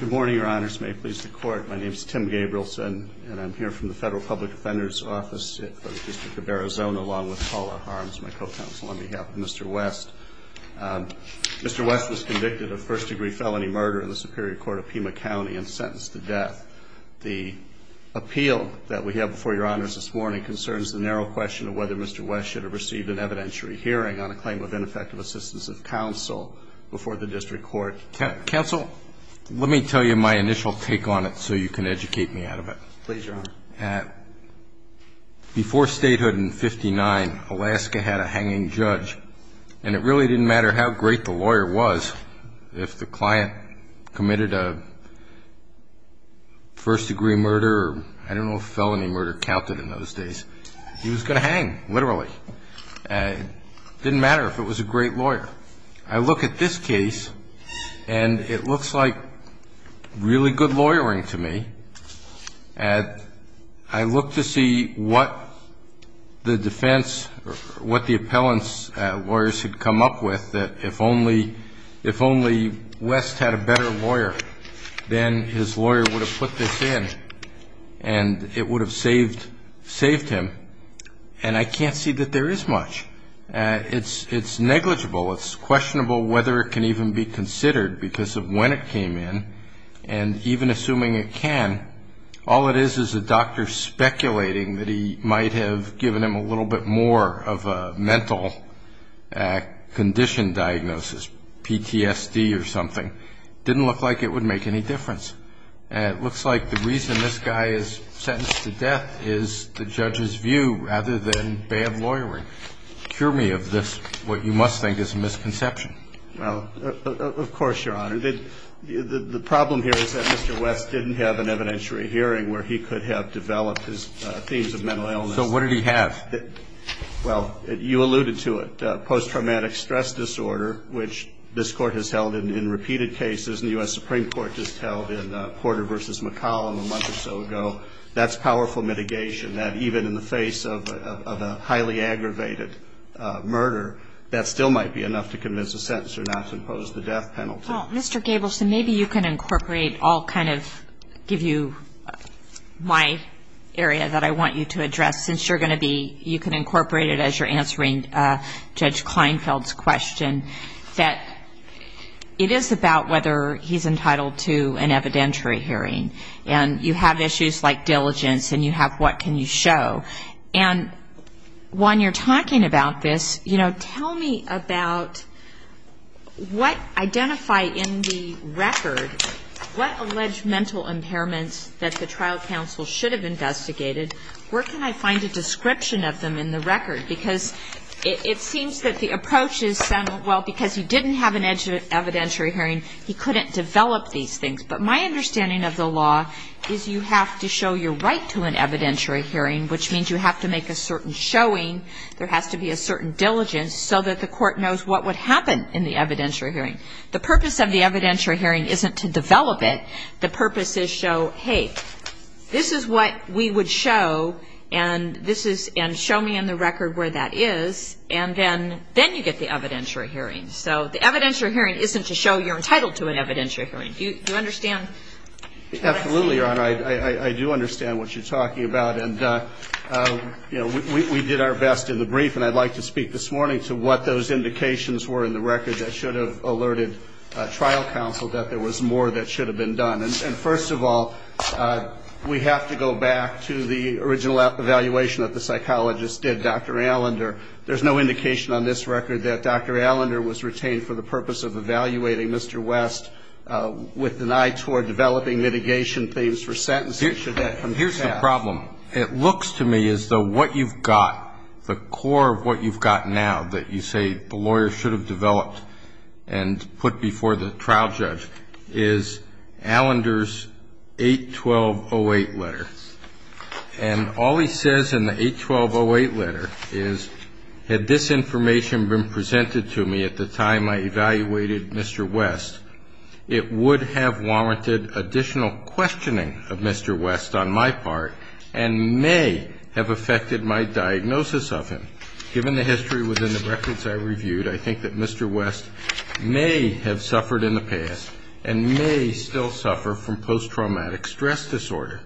Good morning, your honors. My name is Tim Gabrielson, and I'm here from the Federal Public Defender's Office of the District of Arizona, along with Paula Harms, my co-counsel, on behalf of Mr. West. Mr. West was convicted of first-degree felony murder in the Superior Court of Pima County and sentenced to death. The appeal that we have before your honors this morning concerns the narrow question of whether Mr. West should have received an evidentiary hearing on a claim of ineffective assistance of counsel before the district court. Counsel, let me tell you my initial take on it so you can educate me out of it. Please, your honors. Before statehood in 59, Alaska had a hanging judge, and it really didn't matter how great the lawyer was, if the client committed a first-degree murder or I don't know if felony murder counted in those days, he was going to hang, literally. It didn't matter if it was a great lawyer. I look at this case, and it looks like really good lawyering to me. I look to see what the defense, what the appellant's lawyers had come up with, that if only West had a better lawyer, then his lawyer would have put this in, and it would have saved him. And I can't see that there is much. It's negligible. It's questionable whether it can even be considered because of when it came in, and even assuming it can, all it is is a doctor speculating that he might have given him a little bit more of a mental condition diagnosis, PTSD or something. It didn't look like it would make any difference. And it looks like the reason this guy is sentenced to death is the judge's view rather than bad lawyering. Cure me of this, what you must think is a misconception. Of course, Your Honor. The problem here is that Mr. West didn't have an evidentiary hearing where he could have developed his themes of mental illness. So what did he have? Well, you alluded to it, post-traumatic stress disorder, which this court has held in repeated cases. The U.S. Supreme Court just held in Porter v. McCollum a month or so ago. That's powerful mitigation, that even in the face of a highly aggravated murder, that still might be enough to convince a sentencer not to impose the death penalty. Well, Mr. Gableson, maybe you can incorporate, I'll kind of give you my area that I want you to address, since you're going to be, you can incorporate it as you're answering Judge Kleinfeld's question, that it is about whether he's entitled to an evidentiary hearing. And you have issues like diligence, and you have what can you show. And while you're talking about this, you know, tell me about what identified in the record, what alleged mental impairments that the trial counsel should have investigated. Where can I find a description of them in the record? Because it seems that the approach is, well, because he didn't have an evidentiary hearing, he couldn't develop these things. But my understanding of the law is you have to show your right to an evidentiary hearing, which means you have to make a certain showing. There has to be a certain diligence so that the court knows what would happen in the evidentiary hearing. The purpose of the evidentiary hearing isn't to develop it. The purpose is to show, hey, this is what we would show, and show me in the record where that is. And then you get the evidentiary hearing. So the evidentiary hearing isn't to show you're entitled to an evidentiary hearing. Do you understand? Absolutely, Your Honor. I do understand what you're talking about. And, you know, we did our best in the brief, and I'd like to speak this morning to what those indications were in the record that should have alerted trial counsel that there was more that should have been done. And first of all, we have to go back to the original evaluation that the psychologist did, Dr. Allender. There's no indication on this record that Dr. Allender was retained for the purpose of evaluating Mr. West with an eye toward developing litigation claims for sentences. Here's the problem. It looks to me as though what you've got, the core of what you've got now that you say the lawyer should have developed and put before the trial judge, is Allender's 81208 letter. And all he says in the 81208 letter is, had this information been presented to me at the time I evaluated Mr. West, it would have warranted additional questioning of Mr. West on my part and may have affected my diagnosis of him. Given the history within the records I reviewed, I think that Mr. West may have suffered in the past and may still suffer from post-traumatic stress disorder.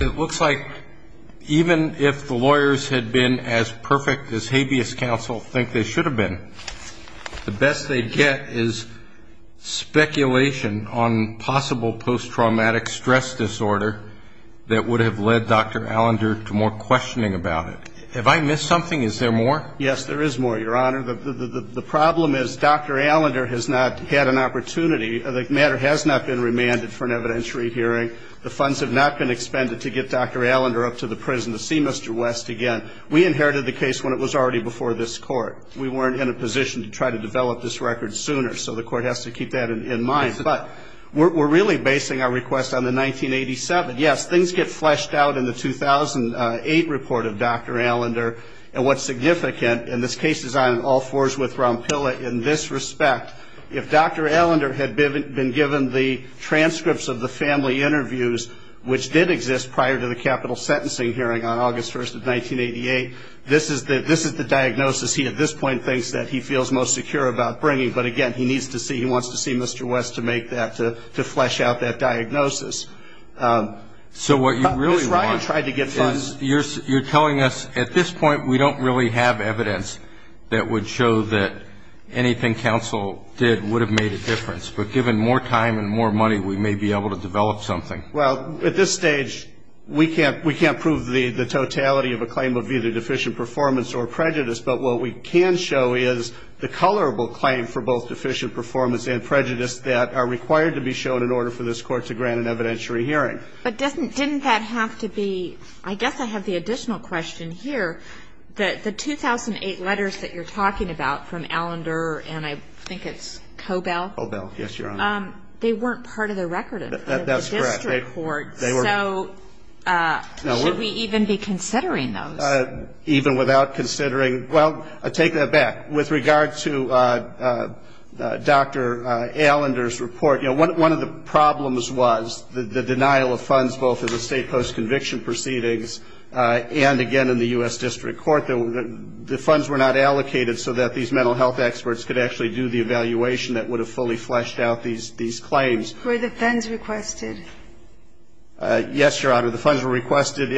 It looks like even if the lawyers had been as perfect as habeas counsel think they should have been, the best they'd get is speculation on possible post-traumatic stress disorder that would have led Dr. Allender to more questioning about it. Have I missed something? Is there more? Yes, there is more, Your Honor. The problem is Dr. Allender has not had an opportunity. The matter has not been remanded for an evidentiary hearing. The funds have not been expended to get Dr. Allender up to the prison to see Mr. West again. We inherited the case when it was already before this Court. We weren't in a position to try to develop this record sooner, so the Court has to keep that in mind. But we're really basing our request on the 1987. Yes, things get fleshed out in the 2008 report of Dr. Allender and what's significant, and this case is on all fours with Rompilla in this respect, if Dr. Allender had been given the transcripts of the family interviews, which did exist prior to the capital sentencing hearing on August 1st of 1988, this is the diagnosis he, at this point, thinks that he feels most secure about bringing. But, again, he wants to see Mr. West to flesh out that diagnosis. So what you're telling us, at this point, we don't really have evidence that would show that anything counsel did would have made a difference. But given more time and more money, we may be able to develop something. Well, at this stage, we can't prove the totality of a claim of either deficient performance or prejudice, but what we can show is the colorable claim for both deficient performance and prejudice that are required to be shown in order for this Court to grant an evidentiary hearing. But didn't that have to be, I guess I have the additional question here, that the 2008 letters that you're talking about from Allender and I think it's Cobell? Cobell, yes, Your Honor. They weren't part of the record of the district court. That's correct. So should we even be considering them? Even without considering, well, I take that back. With regard to Dr. Allender's report, you know, one of the problems was the denial of funds, both in the state post-conviction proceedings and, again, in the U.S. District Court. The funds were not allocated so that these mental health experts could actually do the evaluation that would have fully fleshed out these claims. Were the funds requested? Yes, Your Honor. The funds were requested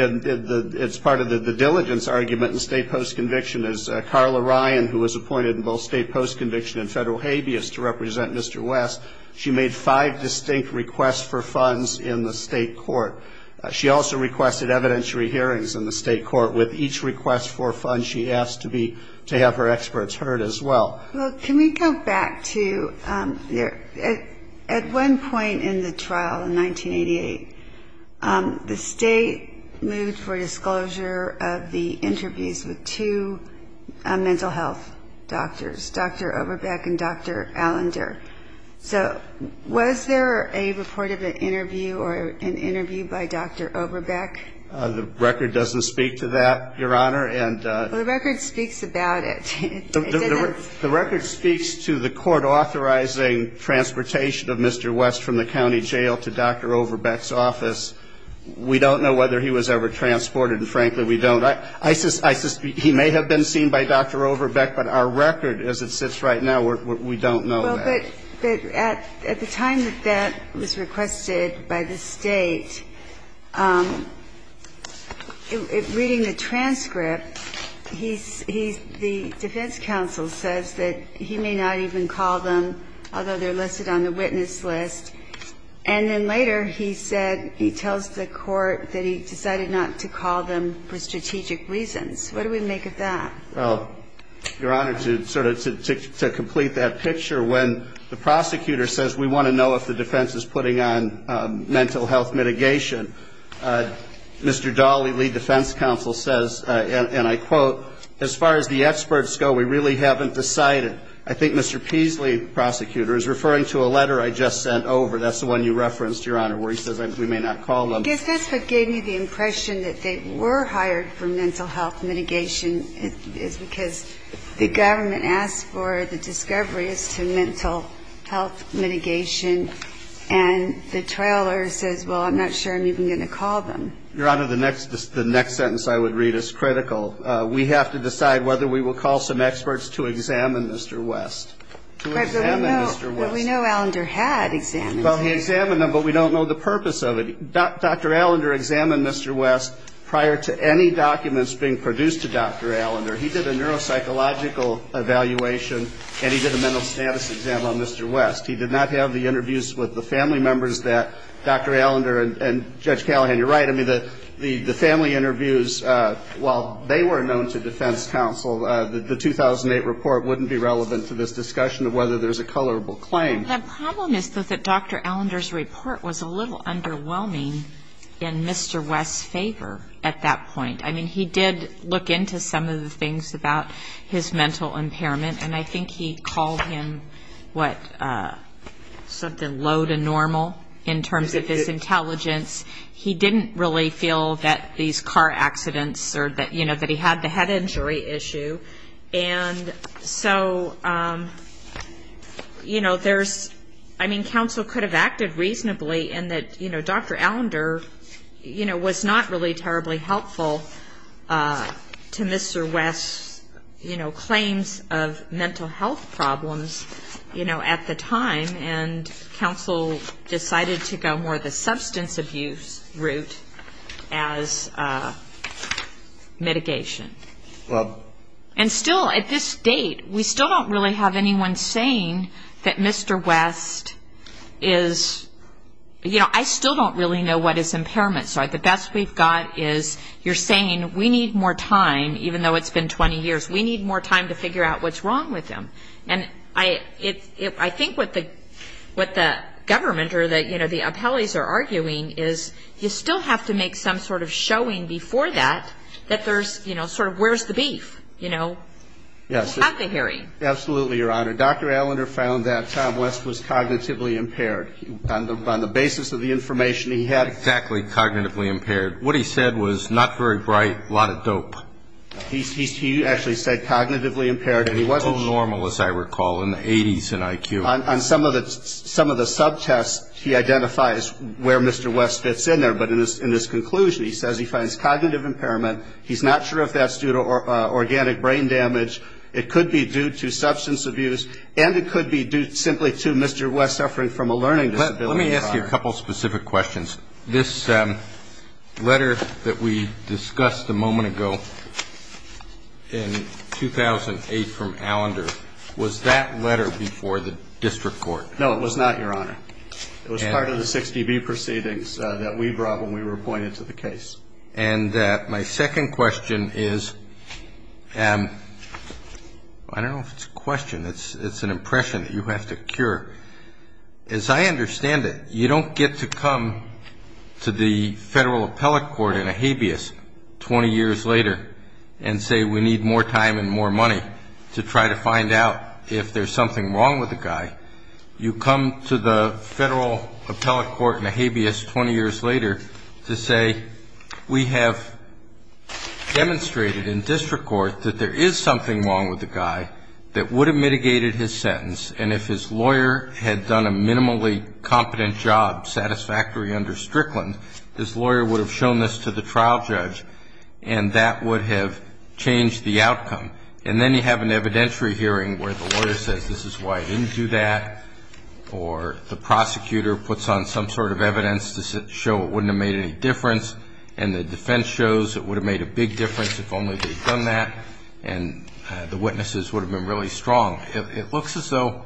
as part of the diligence argument in the state post-conviction. As Carla Ryan, who was appointed in both state post-conviction and federal habeas to represent Mr. West, she made five distinct requests for funds in the state court. She also requested evidentiary hearings in the state court. With each request for funds, she asked to have her experts heard as well. Well, can we go back to at one point in the trial in 1988, the state moved for disclosure of the interviews with two mental health doctors, Dr. Oberbeck and Dr. Allender. So was there a report of an interview or an interview by Dr. Oberbeck? The record doesn't speak to that, Your Honor. The record speaks about it. The record speaks to the court authorizing transportation of Mr. West from the county jail to Dr. Oberbeck's office. We don't know whether he was ever transported, and frankly, we don't. He may have been seen by Dr. Oberbeck, but our record as it sits right now, we don't know that. At the time that that was requested by the state, reading the transcript, the defense counsel says that he may not even call them, although they're listed on the witness list, and then later he tells the court that he decided not to call them for strategic reasons. What do we make of that? Your Honor, to sort of complete that picture, when the prosecutor says we want to know if the defense is putting on mental health mitigation, Mr. Dawley, lead defense counsel, says, and I quote, as far as the experts go, we really haven't decided. I think Mr. Peasley, prosecutor, is referring to a letter I just sent over. That's the one you referenced, Your Honor, where he says we may not call them. I guess that's what gave me the impression that they were hired for mental health mitigation is because the government asked for the discovery of mental health mitigation, and the trailer says, well, I'm not sure I'm even going to call them. Your Honor, the next sentence I would read is critical. We have to decide whether we will call some experts to examine Mr. West. But we know Allender had examined him. Well, he examined him, but we don't know the purpose of it. Dr. Allender examined Mr. West prior to any documents being produced to Dr. Allender. He did a neuropsychological evaluation, and he did a mental status exam on Mr. West. He did not have the interviews with the family members that Dr. Allender and Judge Callahan. You're right. I mean, the family interviews, while they were known to defense counsel, the 2008 report wouldn't be relevant to this discussion of whether there's a colorable claim. The problem is that Dr. Allender's report was a little underwhelming in Mr. West's favor at that point. I mean, he did look into some of the things about his mental impairment, and I think he called him something low to normal in terms of his intelligence. He didn't really feel that these car accidents or that he had the head injury issue. And so, you know, there's ‑‑ I mean, counsel could have acted reasonably in that, you know, Dr. Allender, you know, was not really terribly helpful to Mr. West's, you know, claims of mental health problems, you know, at the time, and counsel decided to go more the substance abuse route as mitigation. And still, at this date, we still don't really have anyone saying that Mr. West is, you know, I still don't really know what his impairments are. The best we've got is you're saying we need more time, even though it's been 20 years. We need more time to figure out what's wrong with him. And I think what the government or, you know, the appellees are arguing is you still have to make some sort of showing before that that there's, you know, sort of where's the beef, you know, at the hearing. Absolutely, Your Honor. Dr. Allender found that Tom West was cognitively impaired on the basis of the information he had. Exactly, cognitively impaired. What he said was not very bright, a lot of dope. He actually said cognitively impaired. He wasn't so normal, as I recall, in the 80s in IQ. On some of the subtests, he identifies where Mr. West fits in there. But in his conclusion, he says he finds cognitive impairment. He's not sure if that's due to organic brain damage. It could be due to substance abuse, and it could be due simply to Mr. West suffering from a learning disability. Let me ask you a couple specific questions. This letter that we discussed a moment ago in 2008 from Allender, was that letter before the district court? No, it was not, Your Honor. It was part of the 60B proceedings that we brought when we were appointed to the case. And my second question is, I don't know if it's a question. It's an impression that you have to cure. As I understand it, you don't get to come to the federal appellate court in a habeas 20 years later and say, we need more time and more money to try to find out if there's something wrong with the guy. You come to the federal appellate court in a habeas 20 years later to say, we have demonstrated in district court that there is something wrong with the guy that would have mitigated his sentence. And if his lawyer had done a minimally competent job satisfactory under Strickland, his lawyer would have shown this to the trial judge, and that would have changed the outcome. And then you have an evidentiary hearing where the lawyer says, this is why I didn't do that, or the prosecutor puts on some sort of evidence to show it wouldn't have made any difference, and the defense shows it would have made a big difference if only they'd done that, and the witnesses would have been really strong. It looks as though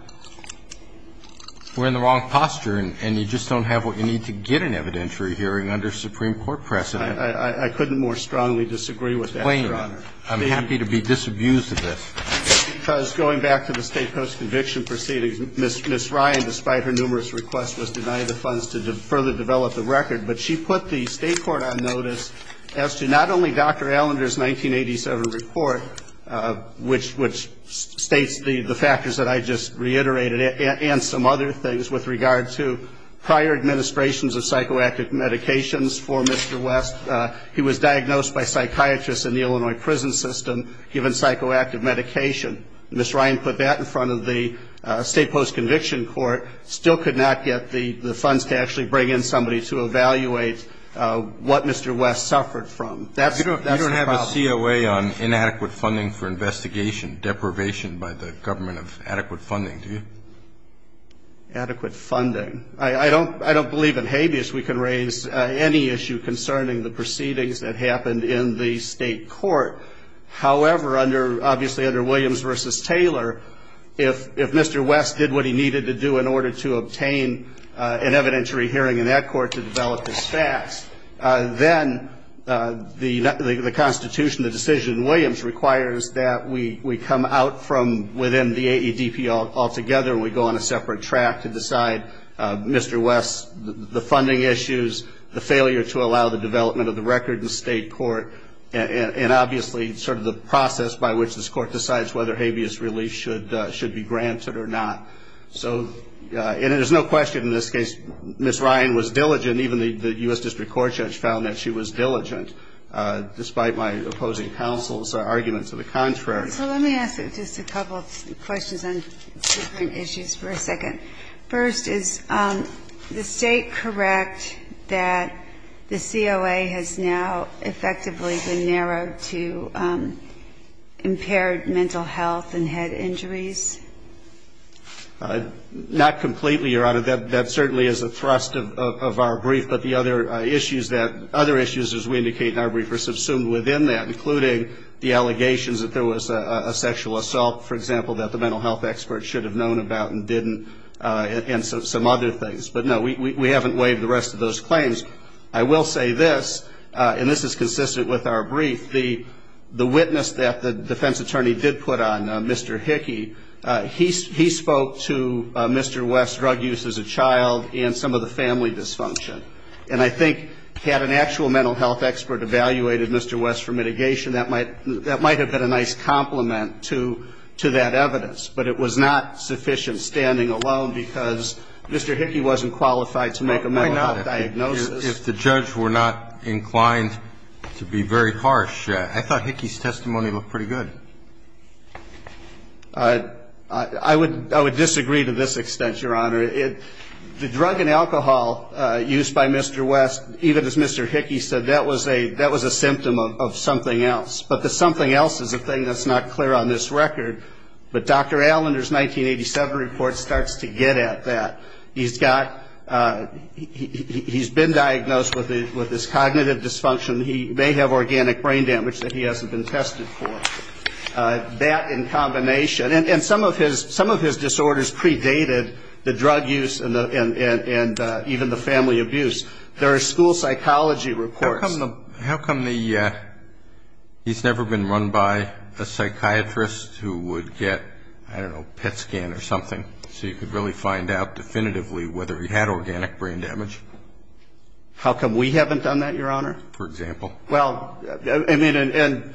we're in the wrong posture, and you just don't have what you need to get an evidentiary hearing under Supreme Court precedent. I couldn't more strongly disagree with that. I'm happy to be disabused of this. Because going back to the state post-conviction proceedings, Ms. Ryan, despite her numerous requests, was denied the funds to further develop the record, but she put the state court on notice as to not only Dr. Allender's 1987 report, which states the factors that I just reiterated, and some other things with regard to prior administrations of psychoactive medications for Mr. West. He was diagnosed by psychiatrists in the Illinois prison system, given psychoactive medication. Ms. Ryan put that in front of the state post-conviction court, still could not get the funds to actually bring in somebody to evaluate what Mr. West suffered from. You don't have a COA on inadequate funding for investigation, deprivation by the government of adequate funding, do you? Adequate funding. I don't believe in habeas we can raise any issue concerning the proceedings that happened in the state court. However, obviously under Williams v. Taylor, if Mr. West did what he needed to do in order to obtain an evidentiary hearing in that court to develop his facts, then the constitution, the decision in Williams, requires that we come out from within the AEDP altogether. We go on a separate track to decide Mr. West's funding issues, the failure to allow the development of the record in the state court, and obviously sort of the process by which this court decides whether habeas relief should be granted or not. And there's no question in this case Ms. Ryan was diligent. And even the U.S. District Court judge found that she was diligent, despite my opposing counsel's argument to the contrary. Let me ask just a couple of questions on different issues for a second. First, is the state correct that the COA has now effectively been narrowed to impaired mental health and head injuries? Not completely, Your Honor. That certainly is a thrust of our brief. But the other issues, as we indicate in our brief, are subsumed within that, including the allegations that there was a sexual assault, for example, that the mental health experts should have known about and didn't, and some other things. But no, we haven't waived the rest of those claims. I will say this, and this is consistent with our brief, the witness that the defense attorney did put on, Mr. Hickey, he spoke to Mr. West's drug use as a child and some of the family dysfunction. And I think had an actual mental health expert evaluated Mr. West for mitigation, that might have been a nice complement to that evidence. But it was not sufficient standing alone because Mr. Hickey wasn't qualified to make a mental health diagnosis. If the judge were not inclined to be very harsh, I thought Hickey's testimony was pretty good. I would disagree to this extent, Your Honor. The drug and alcohol used by Mr. West, even as Mr. Hickey said, that was a symptom of something else. But the something else is a thing that's not clear on this record. But Dr. Allender's 1987 report starts to get at that. He's been diagnosed with this cognitive dysfunction. He may have organic brain damage that he hasn't been tested for. That in combination, and some of his disorders predated the drug use and even the family abuse. There are school psychology reports. How come he's never been run by a psychiatrist who would get, I don't know, a PET scan or something, so you could really find out definitively whether he had organic brain damage? How come we haven't done that, Your Honor? For example? Well, I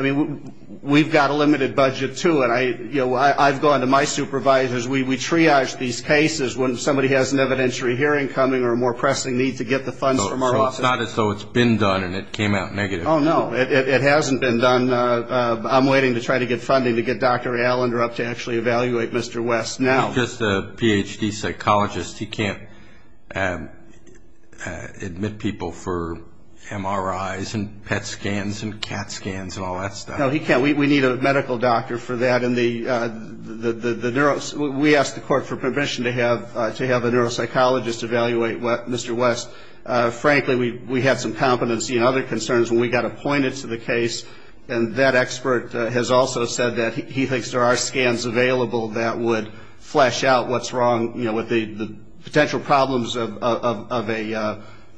mean, we've got a limited budget, too. I've gone to my supervisors. We triage these cases when somebody has an evidentiary hearing coming or a more pressing need to get the funds from our office. So it's not as though it's been done and it came out negative. Oh, no. It hasn't been done. I'm waiting to try to get funding to get Dr. Allender up to actually evaluate Mr. West now. Well, he's just a Ph.D. psychologist. He can't admit people for MRIs and PET scans and CAT scans and all that stuff. No, he can't. We need a medical doctor for that. We asked the court for permission to have a neuropsychologist evaluate Mr. West. Frankly, we had some competency and other concerns when we got appointed to the case, and that expert has also said that he thinks there are scans available that would flesh out what's wrong with the potential problems of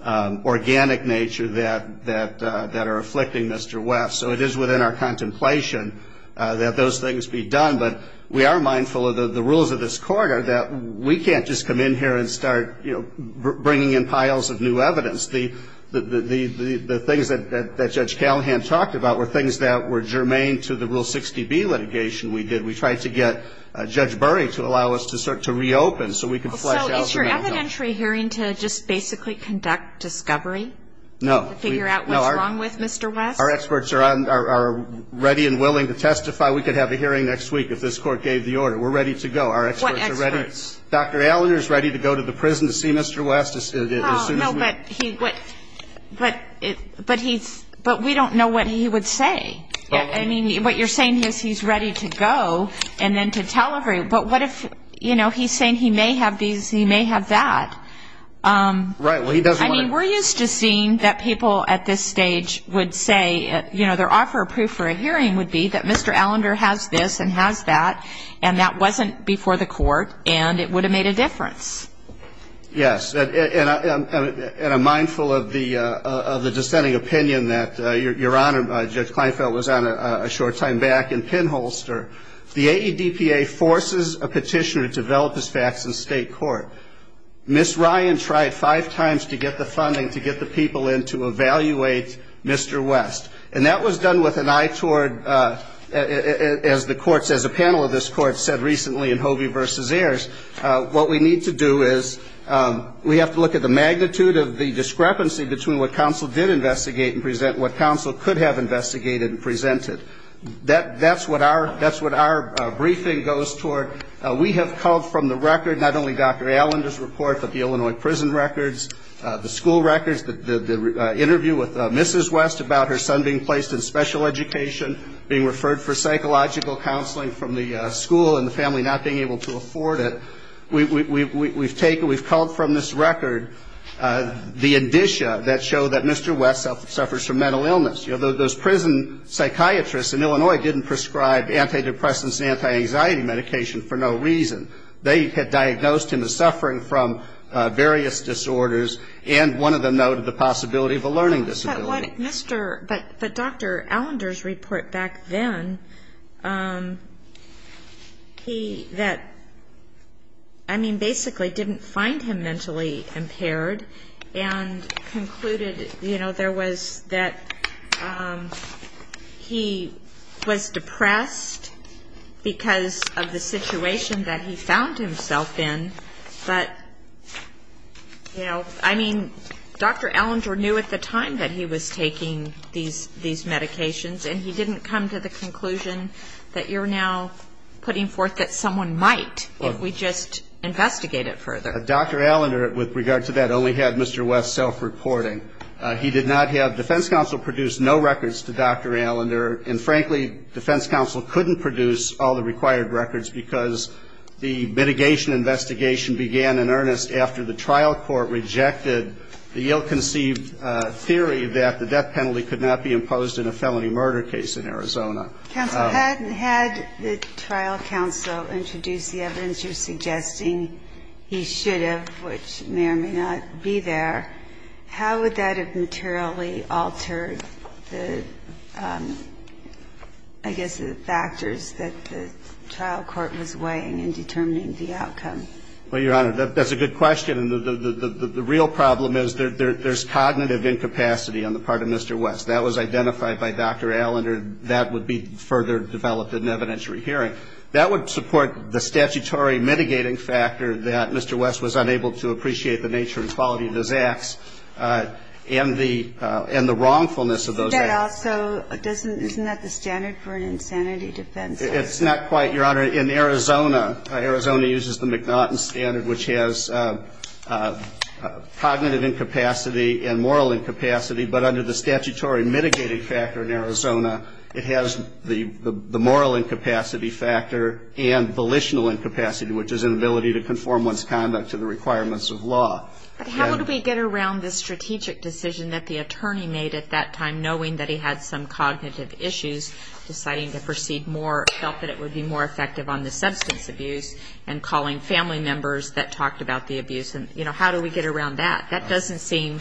an organic nature that are afflicting Mr. West. So it is within our contemplation that those things be done, but we are mindful of the rules of this court are that we can't just come in here and start bringing in piles of new evidence. The things that Judge Callahan talked about were things that were germane to the Rule 60B litigation we did. We tried to get Judge Burry to allow us to start to reopen so we could flesh out the problem. So is your evidentiary hearing to just basically conduct discovery to figure out what's wrong with Mr. West? No. Our experts are ready and willing to testify. We could have a hearing next week if this court gave the order. We're ready to go. What experts? Dr. Allender is ready to go to the prison to see Mr. West. No, but we don't know what he would say. I mean, what you're saying is he's ready to go and then to tell everybody. But what if, you know, he's saying he may have this and he may have that. Right. I mean, we're used to seeing that people at this stage would say, you know, their offer of proof for a hearing would be that Mr. Allender has this and has that, and that wasn't before the court, and it would have made a difference. Yes, and I'm mindful of the dissenting opinion that Your Honor, Judge Kleinfeld, was on a short time back in Pinholster. The ADDPA forces a petitioner to develop his facts in state court. Ms. Ryan tried five times to get the funding to get the people in to evaluate Mr. West, and that was done with an eye toward, as the panel of this court said recently in Hovey v. Ayers, what we need to do is we have to look at the magnitude of the discrepancy between what counsel did investigate and present and what counsel could have investigated and presented. That's what our briefing goes toward. We have called from the record not only Dr. Allender's report, but the Illinois prison records, the school records, the interview with Mrs. West about her son being placed in special education, being referred for psychological counseling from the school, and the family not being able to afford it. We've called from this record the indicia that show that Mr. West suffers from mental illness. Those prison psychiatrists in Illinois didn't prescribe antidepressants and anti-anxiety medication for no reason. They had diagnosed him as suffering from various disorders and wanted to know the possibility of a learning disability. But Dr. Allender's report back then, he basically didn't find him mentally impaired and concluded that he was depressed because of the situation that he found himself in. But, you know, I mean, Dr. Allender knew at the time that he was taking these medications and he didn't come to the conclusion that you're now putting forth that someone might if we just investigate it further. Dr. Allender, with regard to that, only had Mr. West self-reporting. He did not have defense counsel produce no records to Dr. Allender and, frankly, defense counsel couldn't produce all the required records because the mitigation investigation began in earnest after the trial court rejected the ill-conceived theory that the death penalty could not be imposed in a felony murder case in Arizona. Had the trial counsel introduced the evidence suggesting he should have, which may or may not be there, how would that have materially altered the, I guess, the factors that the trial court was weighing in determining the outcome? Well, Your Honor, that's a good question. And the real problem is there's cognitive incapacity on the part of Mr. West. That was identified by Dr. Allender. That would be further developed in an evidentiary hearing. That would support the statutory mitigating factor that Mr. West was unable to appreciate the nature and quality of his acts and the wrongfulness of those acts. Isn't that the standard for an insanity defense? It's not quite, Your Honor. In Arizona, Arizona uses the McNaughton standard, which has cognitive incapacity and moral incapacity, but under the statutory mitigating factor in Arizona, it has the moral incapacity factor and volitional incapacity, which is inability to conform one's conduct to the requirements of law. How would we get around the strategic decision that the attorney made at that time, knowing that he had some cognitive issues, deciding to proceed more, felt that it would be more effective on the substance abuse, and calling family members that talked about the abuse? And, you know, how do we get around that? That doesn't seem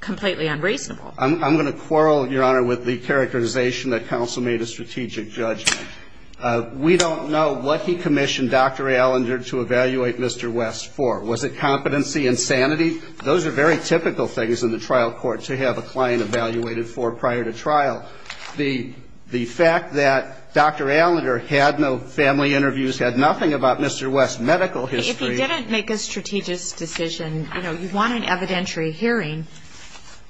completely unreasonable. I'm going to quarrel, Your Honor, with the characterization that counsel made as strategic judge. We don't know what he commissioned Dr. Allender to evaluate Mr. West for. Was it competency and sanity? Those are very typical things in the trial court to have a client evaluated for prior to trial. The fact that Dr. Allender had no family interviews, had nothing about Mr. West's medical history. If he didn't make a strategic decision, you know, you want an evidentiary hearing,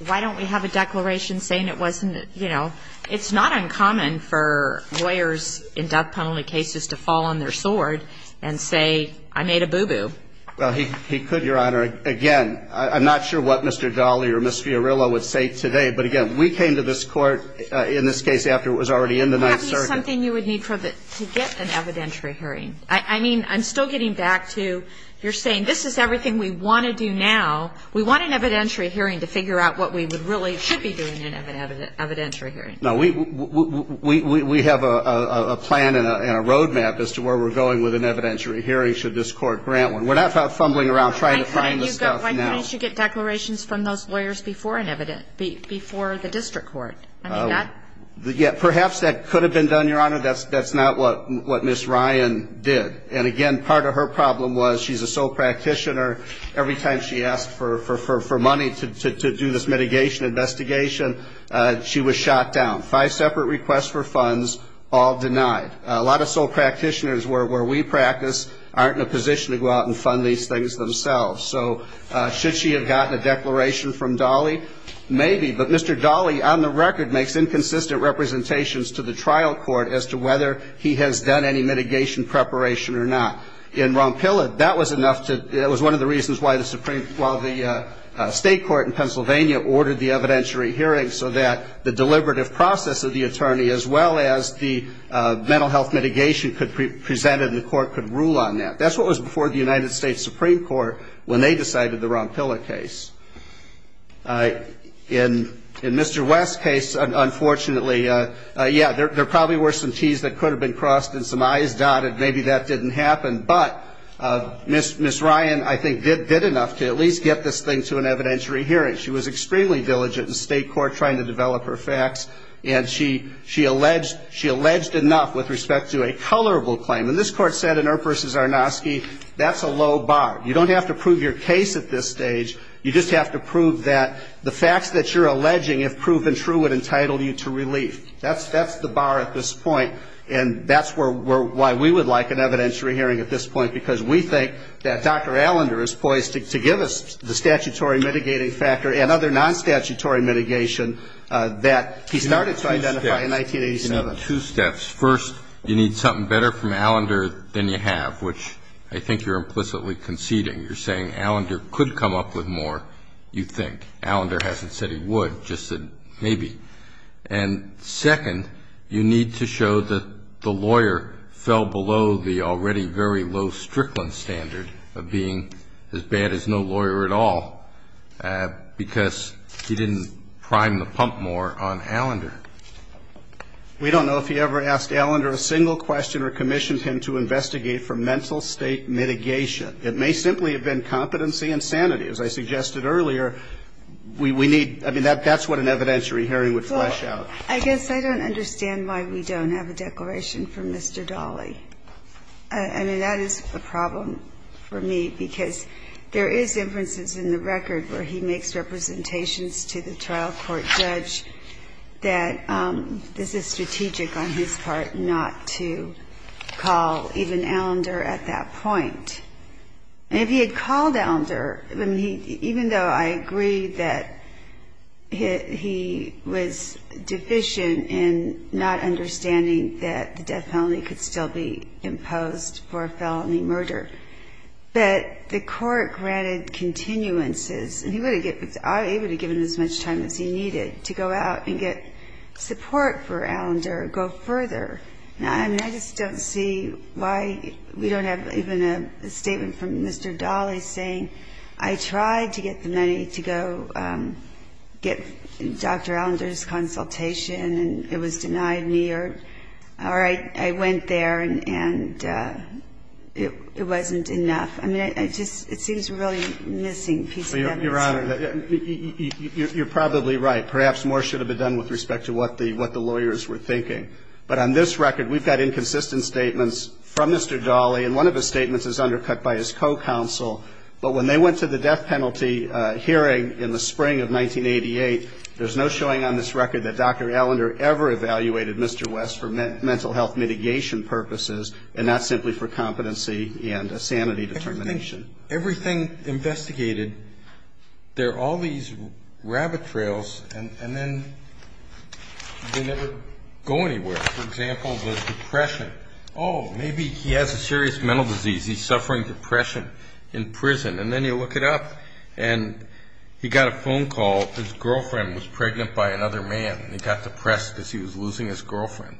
why don't we have a declaration saying it wasn't, you know, it's not uncommon for lawyers in death penalty cases to fall on their sword and say, I made a boo-boo. Well, he could, Your Honor. Again, I'm not sure what Mr. Daly or Ms. Fiorillo would say today, but again, we came to this court, in this case, after it was already in the Ninth Circuit. That is something you would need to get an evidentiary hearing. I mean, I'm still getting back to, you're saying, this is everything we want to do now. We want an evidentiary hearing to figure out what we really should be doing in an evidentiary hearing. No, we have a plan and a road map as to where we're going with an evidentiary hearing should this court grant one. We're not fumbling around trying to find the stuff. You've got one to get declarations from those lawyers before the district court. Perhaps that could have been done, Your Honor. That's not what Ms. Ryan did. And again, part of her problem was she's a sole practitioner. Every time she asked for money to do this mitigation investigation, she was shot down. Five separate requests for funds, all denied. A lot of sole practitioners where we practice aren't in a position to go out and fund these things themselves. So should she have gotten a declaration from Daly? Maybe, but Mr. Daly, on the record, makes inconsistent representations to the trial court as to whether he has done any mitigation preparation or not. In Ron Pillard, that was one of the reasons why the state court in Pennsylvania ordered the evidentiary hearing so that the deliberative process of the attorney as well as the mental health mitigation presented in the court could rule on that. That's what was before the United States Supreme Court when they decided the Ron Pillard case. In Mr. West's case, unfortunately, yeah, there probably were some T's that could have been crossed and some I's dotted. Maybe that didn't happen. But Ms. Ryan, I think, did enough to at least get this thing to an evidentiary hearing. She was extremely diligent in state court trying to develop her facts, and she alleged enough with respect to a colorable claim. And this court said in Earp v. Zarnofsky, that's a low bar. You don't have to prove your case at this stage. You just have to prove that the facts that you're alleging have proven true and entitled you to relief. That's the bar at this point, and that's why we would like an evidentiary hearing at this point, because we think that Dr. Allender is poised to give us the statutory mitigating factor and other non-statutory mitigation that he started to identify in 1987. Two steps. First, you need something better from Allender than you have, which I think you're implicitly conceding. You're saying Allender could come up with more, you think. Allender hasn't said he would, just said maybe. And second, you need to show that the lawyer fell below the already very low Strickland standard of being as bad as no lawyer at all because he didn't prime the pump more on Allender. We don't know if he ever asked Allender a single question or commissioned him to investigate for mental state mitigation. It may simply have been competency and sanity. As I suggested earlier, we need, I mean, that's what an evidentiary hearing would flesh out. Well, I guess I don't understand why we don't have a declaration from Mr. Dolly. I mean, that is a problem for me because there is, for instance, in the record where he makes representations to the trial court judge that this is strategic on his part not to call even Allender at that point. And if he had called Allender, even though I agree that he was deficient in not understanding that the death penalty could still be imposed for a felony murder, that the court granted continuances and he would have given as much time as he needed to go out and get support for Allender or go further. I mean, I just don't see why we don't have even a statement from Mr. Dolly saying, I tried to get the money to go get Dr. Allender's consultation and it was denied me. Or, all right, I went there and it wasn't enough. I mean, it just seems really missing. Your Honor, you're probably right. Perhaps more should have been done with respect to what the lawyers were thinking. But on this record, we've got inconsistent statements from Mr. Dolly, and one of his statements was undercut by his co-counsel. But when they went to the death penalty hearing in the spring of 1988, there's no showing on this record that Dr. Allender ever evaluated Mr. West for mental health mitigation purposes and not simply for competency and sanity determination. Everything investigated, there are all these rabbit trails, and then they never go anywhere. For example, the depression. Oh, maybe he has a serious mental disease. He's suffering depression in prison. And then you look it up, and he got a phone call. His girlfriend was pregnant by another man. He got depressed because he was losing his girlfriend.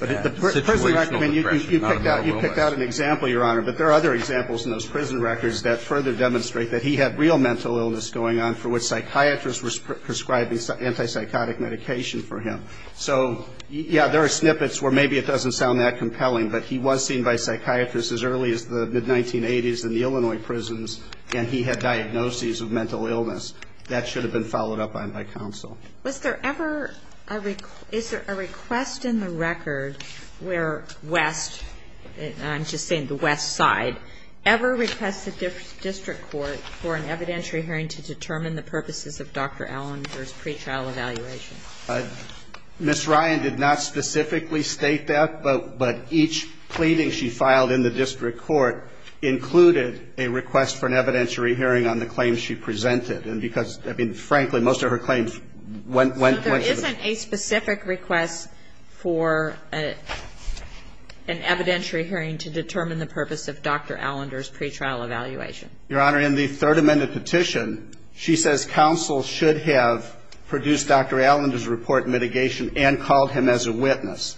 You picked out an example, Your Honor, but there are other examples in those prison records that further demonstrate that he had real mental illness going on for which psychiatrists were prescribing antipsychotic medication for him. So, yeah, there are snippets where maybe it doesn't sound that compelling, but he was seen by psychiatrists as early as the mid-1980s in the Illinois prisons, and he had diagnoses of mental illness. That should have been followed up on by counsel. Was there ever a request in the records where West, I'm just saying the West side, ever requested the district court for an evidentiary hearing to determine the purposes of Dr. Allen's pre-trial evaluation? Ms. Ryan did not specifically state that, but each pleading she filed in the district court included a request for an evidentiary hearing on the claims she presented. And because, I mean, frankly, most of her claims went to the district court. So isn't a specific request for an evidentiary hearing to determine the purpose of Dr. Allender's pre-trial evaluation? Your Honor, in the third amended petition, she says counsel should have produced Dr. Allender's report mitigation and called him as a witness.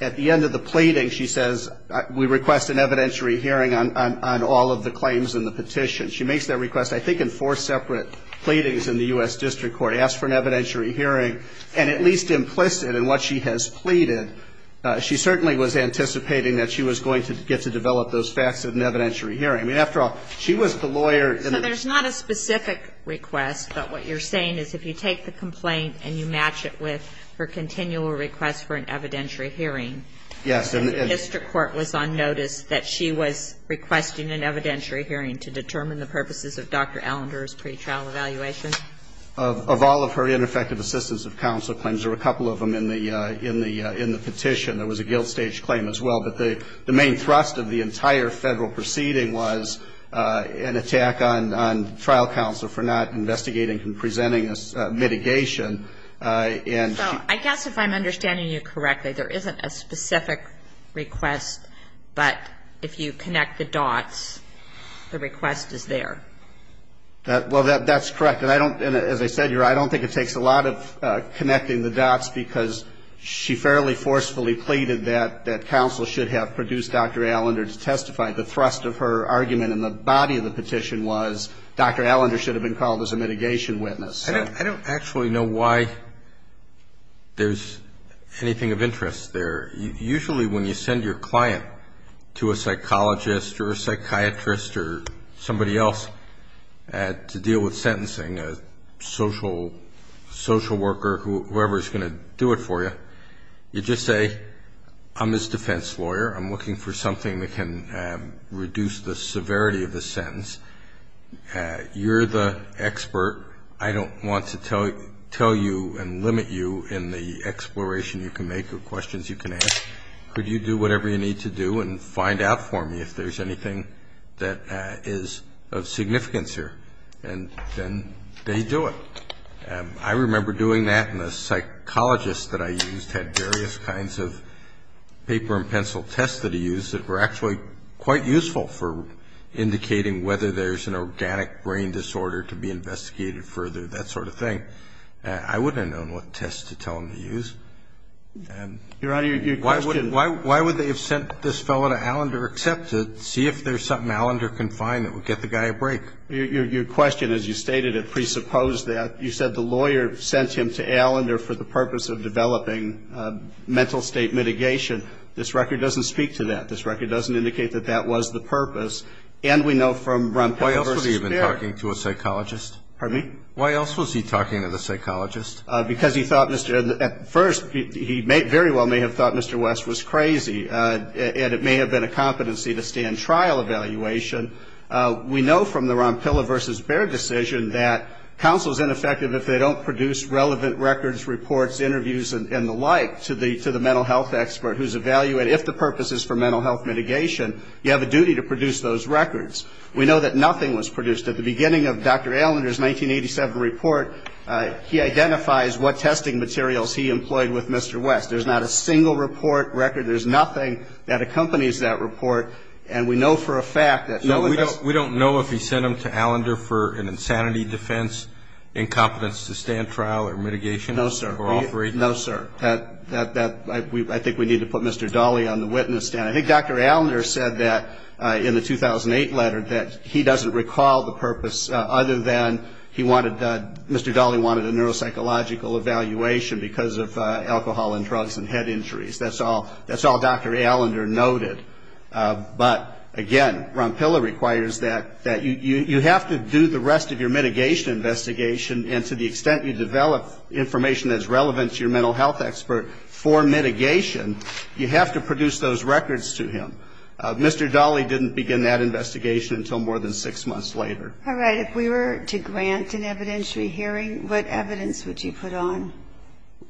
At the end of the pleading, she says, we request an evidentiary hearing on all of the claims in the petition. She makes that request, I think, in four separate pleadings in the U.S. district court. She asked for an evidentiary hearing, and at least implicit in what she has pleaded, she certainly was anticipating that she was going to get to develop those facts of an evidentiary hearing. I mean, after all, she was the lawyer. So there's not a specific request, but what you're saying is if you take the complaint and you match it with her continual request for an evidentiary hearing, the district court was on notice that she was requesting an evidentiary hearing to determine the purposes of Dr. Allender's pre-trial evaluation? Of all of her ineffective assistance of counsel claims, there were a couple of them in the petition. There was a guilt stage claim as well. But the main thrust of the entire federal proceeding was an attack on trial counsel for not investigating and presenting a mitigation. So I guess if I'm understanding you correctly, there isn't a specific request, but if you connect the dots, the request is there. Well, that's correct. And as I said, I don't think it takes a lot of connecting the dots because she fairly forcefully pleaded that counsel should have produced Dr. Allender to testify. The thrust of her argument in the body of the petition was Dr. Allender should have been called as a mitigation witness. I don't actually know why there's anything of interest there. Usually when you send your client to a psychologist or a psychiatrist or somebody else to deal with sentencing, a social worker, whoever is going to do it for you, you just say, I'm this defense lawyer. I'm looking for something that can reduce the severity of the sentence. You're the expert. I don't want to tell you and limit you in the exploration you can make of questions you can ask. Could you do whatever you need to do and find out for me if there's anything that is of significance here? And then they do it. I remember doing that, and a psychologist that I used had various kinds of paper and pencil tests that he used that were actually quite useful for indicating whether there's an organic brain disorder to be investigated further, that sort of thing. I wouldn't have known what test to tell him to use. Your Honor, your question. Why would they have sent this fellow to Allender except to see if there's something Allender can find that would get the guy a break? Your question, as you stated, it presupposed that. You said the lawyer sent him to Allender for the purpose of developing mental state mitigation. This record doesn't speak to that. This record doesn't indicate that that was the purpose. And we know from Ron Pilla versus Baird. Why else would he have been talking to a psychologist? Pardon me? Why else was he talking to the psychologist? Because he thought Mr. At first he very well may have thought Mr. West was crazy, and it may have been a competency to stand trial evaluation. We know from the Ron Pilla versus Baird decision that counsel is ineffective if they don't produce relevant records, interviews and the like to the mental health expert who's evaluated. If the purpose is for mental health mitigation, you have a duty to produce those records. We know that nothing was produced. At the beginning of Dr. Allender's 1987 report, he identifies what testing materials he employed with Mr. West. There's not a single report record. There's nothing that accompanies that report. And we know for a fact that fellow We don't know if he sent him to Allender for an insanity defense, incompetence to stand trial or mitigation. No, sir. No, sir. I think we need to put Mr. Dolly on the witness stand. I think Dr. Allender said that in the 2008 letter that he doesn't recall the purpose other than he wanted Mr. Dolly wanted a neuropsychological evaluation because of alcohol and drugs and head injuries. That's all Dr. Allender noted. But, again, Ron Pilla requires that you have to do the rest of your mitigation investigation, and to the extent you develop information that's relevant to your mental health expert for mitigation, you have to produce those records to him. Mr. Dolly didn't begin that investigation until more than six months later. All right. If we were to grant an evidentiary hearing, what evidence would you put on?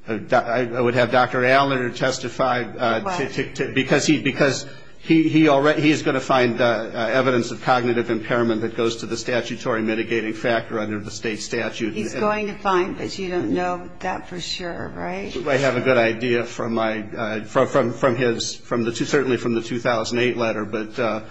I would have Dr. Allender testify. Why? Because he's going to find evidence of cognitive impairment that goes to the statutory mitigating factor under the state statute. He's going to find, but you don't know that for sure, right? I have a good idea from his, certainly from the 2008 letter.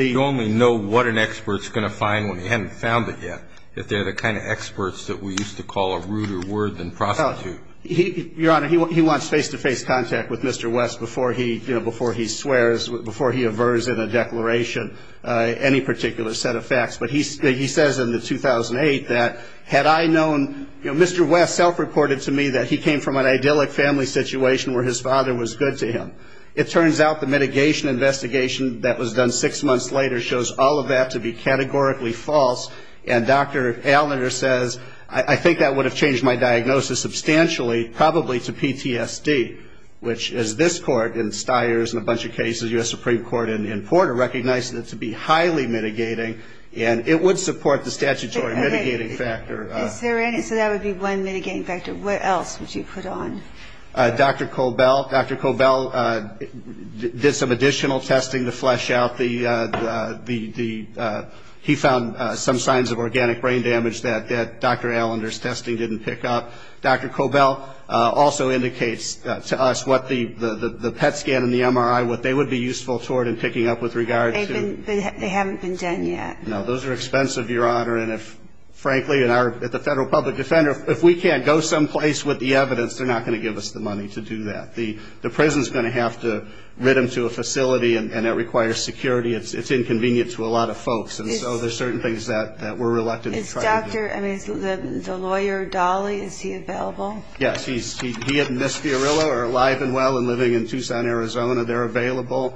You only know what an expert's going to find when he hasn't found it yet. They're the kind of experts that we used to call a ruder word than prostitute. Your Honor, he wants face-to-face contact with Mr. West before he swears, before he averts in a declaration any particular set of facts. But he says in the 2008 that, had I known, you know, Mr. West self-reported to me that he came from an idyllic family situation where his father was good to him. It turns out the mitigation investigation that was done six months later shows all of that to be categorically false. And Dr. Allender says, I think that would have changed my diagnosis substantially, probably to PTSD, which is this court in Stiers and a bunch of cases, U.S. Supreme Court in Porter, recognizes this to be highly mitigating. And it would support the statutory mitigating factor. So that would be one mitigating factor. What else would you put on? Dr. Cobell. Dr. Cobell did some additional testing to flesh out the, he found some signs of organic brain damage that Dr. Allender's testing didn't pick up. Dr. Cobell also indicates to us what the PET scan and the MRI, what they would be useful for in picking up with regards to. They haven't been done yet. No, those are expensive, Your Honor. And frankly, at the Federal Public Defender, if we can't go someplace with the evidence, they're not going to give us the money to do that. The prison's going to have to rid them to a facility, and that requires security. It's inconvenient to a lot of folks. And so there's certain things that we're reluctant to try to do. Dr. And the lawyer, Dolly, is he available? Yes. He and Ms. Fiorillo are alive and well and living in Tucson, Arizona. They're available.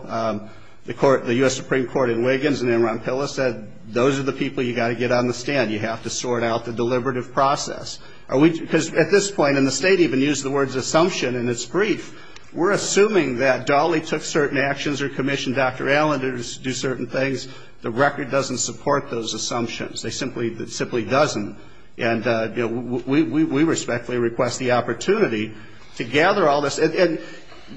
The U.S. Supreme Court in Wiggins and in Roncillo said those are the people you've got to get on the stand. You have to sort out the deliberative process. Because at this point, and the State even used the words assumption in its brief, we're assuming that Dolly took certain actions or commissioned Dr. Allender to do certain things. The record doesn't support those assumptions. It simply doesn't. And we respectfully request the opportunity to gather all this. And,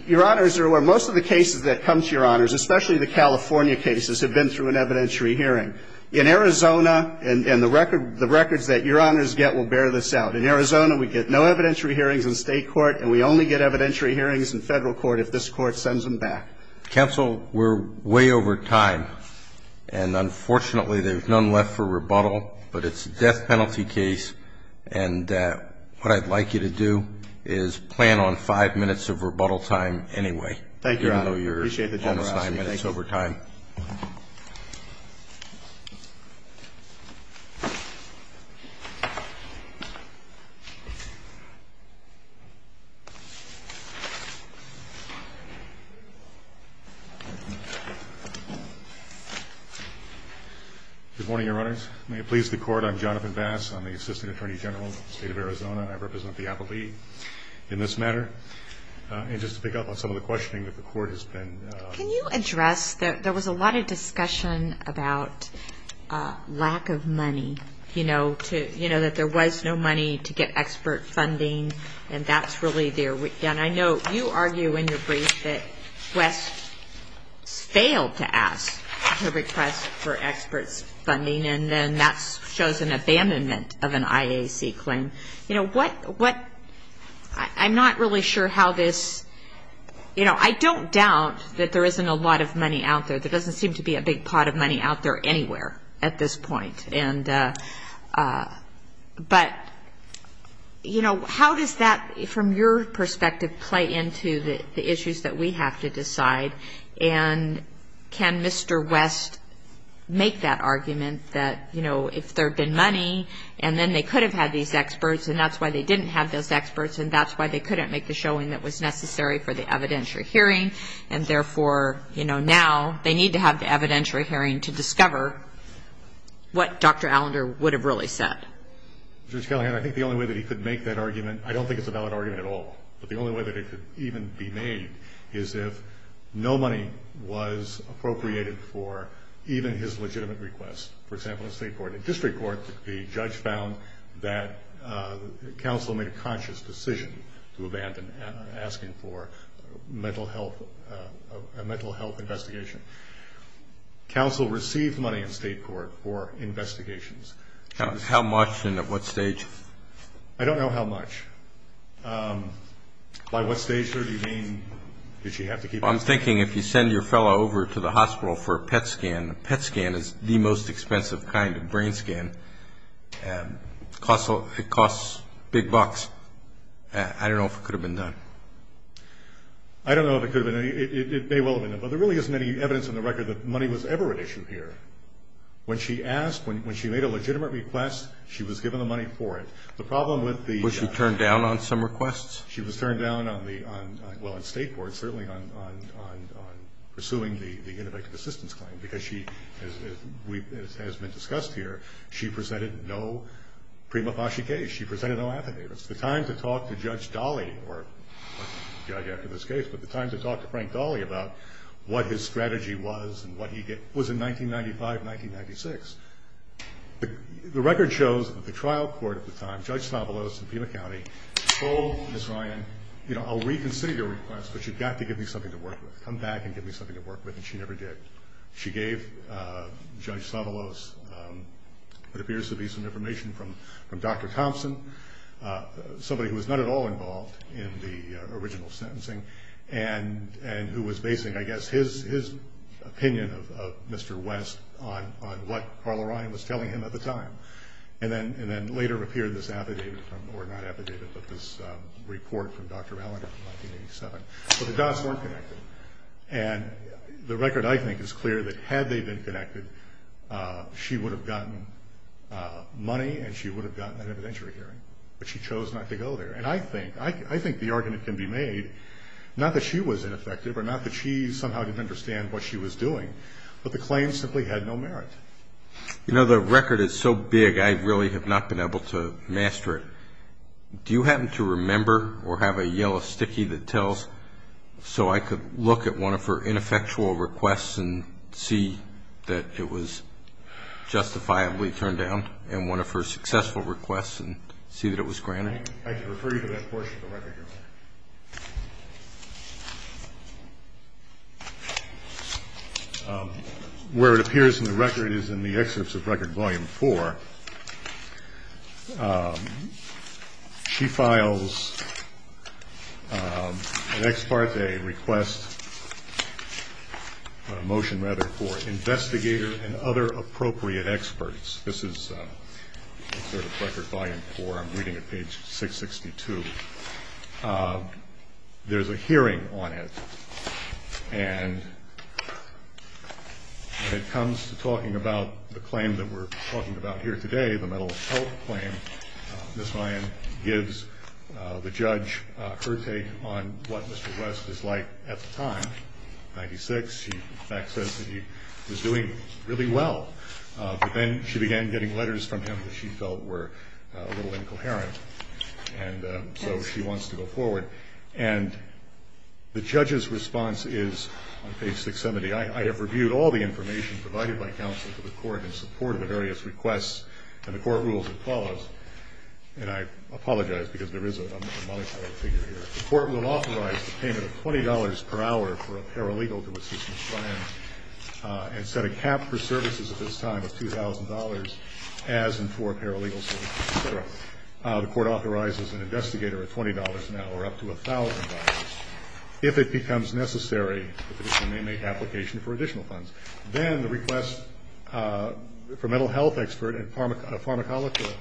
Your Honors, most of the cases that come to Your Honors, especially the California cases, have been through an evidentiary hearing. In Arizona, and the records that Your Honors get will bear this out, in Arizona we get no evidentiary hearings in State court, and we only get evidentiary hearings in Federal court if this court sends them back. Counsel, we're way over time. And, unfortunately, there's none left for rebuttal. But it's a death penalty case. And what I'd like you to do is plan on five minutes of rebuttal time anyway. Thank you, Your Honor. I appreciate that, Your Honor. All right. Good morning, Your Honors. May it please the Court, I'm Jonathan Bass. I'm the Assistant Attorney General of the State of Arizona, and I represent the appellee in this matter. And just to pick up on some of the questioning that the Court has been... Can you address, there was a lot of discussion about lack of money, you know, that there was no money to get expert funding, and that's really there. And I know you argue in your brief that West failed to ask for requests for expert funding, and then that shows an abandonment of an IAC claim. And, you know, what, I'm not really sure how this, you know, I don't doubt that there isn't a lot of money out there. There doesn't seem to be a big pot of money out there anywhere at this point. And, but, you know, how does that, from your perspective, play into the issues that we have to decide? And can Mr. West make that argument that, you know, if there had been money, and then they could have had these experts, and that's why they didn't have those experts, and that's why they couldn't make the showing that was necessary for the evidentiary hearing, and therefore, you know, now they need to have the evidentiary hearing to discover what Dr. Allender would have really said? Judge Callahan, I think the only way that he could make that argument, I don't think it's a valid argument at all, but the only way that it could even be made is if no money was appropriated for even his legitimate request. For example, the state court, in this report, the judge found that counsel made a conscious decision to abandon asking for a mental health investigation. Counsel received money in state court for investigations. How much and at what stage? I don't know how much. By what stage, sir, do you mean? I'm thinking if you send your fellow over to the hospital for a PET scan, and a PET scan is the most expensive kind of brain scan. It costs big bucks. I don't know if it could have been done. I don't know if it could have been done. It may well have been done, but there really isn't any evidence in the record that money was ever issued here. When she asked, when she made a legitimate request, she was given the money for it. The problem with the… Was she turned down on some requests? She was turned down on the, well, on state court, certainly on pursuing the innovative assistance claim, because she, as has been discussed here, she presented no prima facie case. She presented no affidavits. The time to talk to Judge Dolly, or the judge after this case, but the time to talk to Frank Dolly about what his strategy was and what he did was in 1995 and 1996. The record shows that the trial court at the time, Judge Savalos in Pima County, told Ms. Ryan, you know, I'll reconsider your request, but you've got to give me something to work with. Come back and give me something to work with, and she never did. She gave Judge Savalos what appears to be some information from Dr. Thompson, somebody who was not at all involved in the original sentencing, and who was basing, I guess, his opinion of Mr. West on what Carl Ryan was telling him at the time, and then later appeared this affidavit, or not affidavit, but this report from Dr. Allen in 1987. So the dots weren't connected, and the record, I think, is clear that had they been connected, she would have gotten money and she would have gotten an evidentiary hearing, but she chose not to go there, and I think the argument can be made not that she was ineffective or not that she somehow didn't understand what she was doing, but the claim simply had no merit. You know, the record is so big I really have not been able to master it. Do you happen to remember or have a yellow sticky that tells so I could look at one of her ineffectual requests and see that it was justifiably turned down, and one of her successful requests and see that it was granted? I can refer you to that portion of the record. Where it appears in the record is in the excerpts of Record Volume 4. She files an ex parte request, a motion rather, for investigators and other appropriate experts. This is Excerpt of Record Volume 4. I'm reading at page 662. There's a hearing on it, and when it comes to talking about the claim that we're talking about here today, the mental health claim, Ms. Lyon gives the judge her take on what Mr. Rust was like at the time, in 1996. She, in fact, says that he was doing really well, but then she began getting letters from him that she felt were a little incoherent, and so she wants to go forward, and the judge's response is on page 670, I have reviewed all the information provided by counsel to the court in support of the various requests, and the court rules as follows, and I apologize because there is a modified figure here. The court will authorize the payment of $20 per hour for a paralegal to assist Ms. Lyon and set a cap for services at this time of $2,000 as and for paralegal services, et cetera. The court authorizes an investigator at $20 an hour up to $1,000 if it becomes necessary to make an application for additional funds. Then the request for mental health expert and pharmacological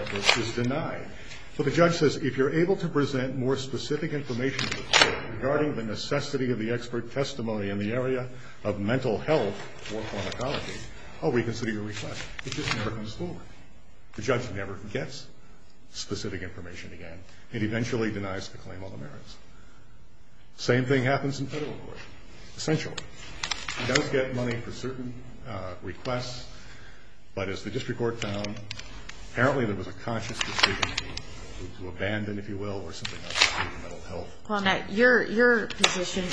expert is denied. But the judge says, if you're able to present more specific information to the court regarding the necessity of the expert testimony in the area of mental health or pharmacology, how will you consider your request? It just never comes forward. The judge never gets specific information again. It eventually denies the claim on the merits. The same thing happens in federal court, essentially. You don't get money for certain requests, but as the district court found, apparently there was a conscious decision to abandon, if you will, or something like that to do with mental health. Well, Matt, your position,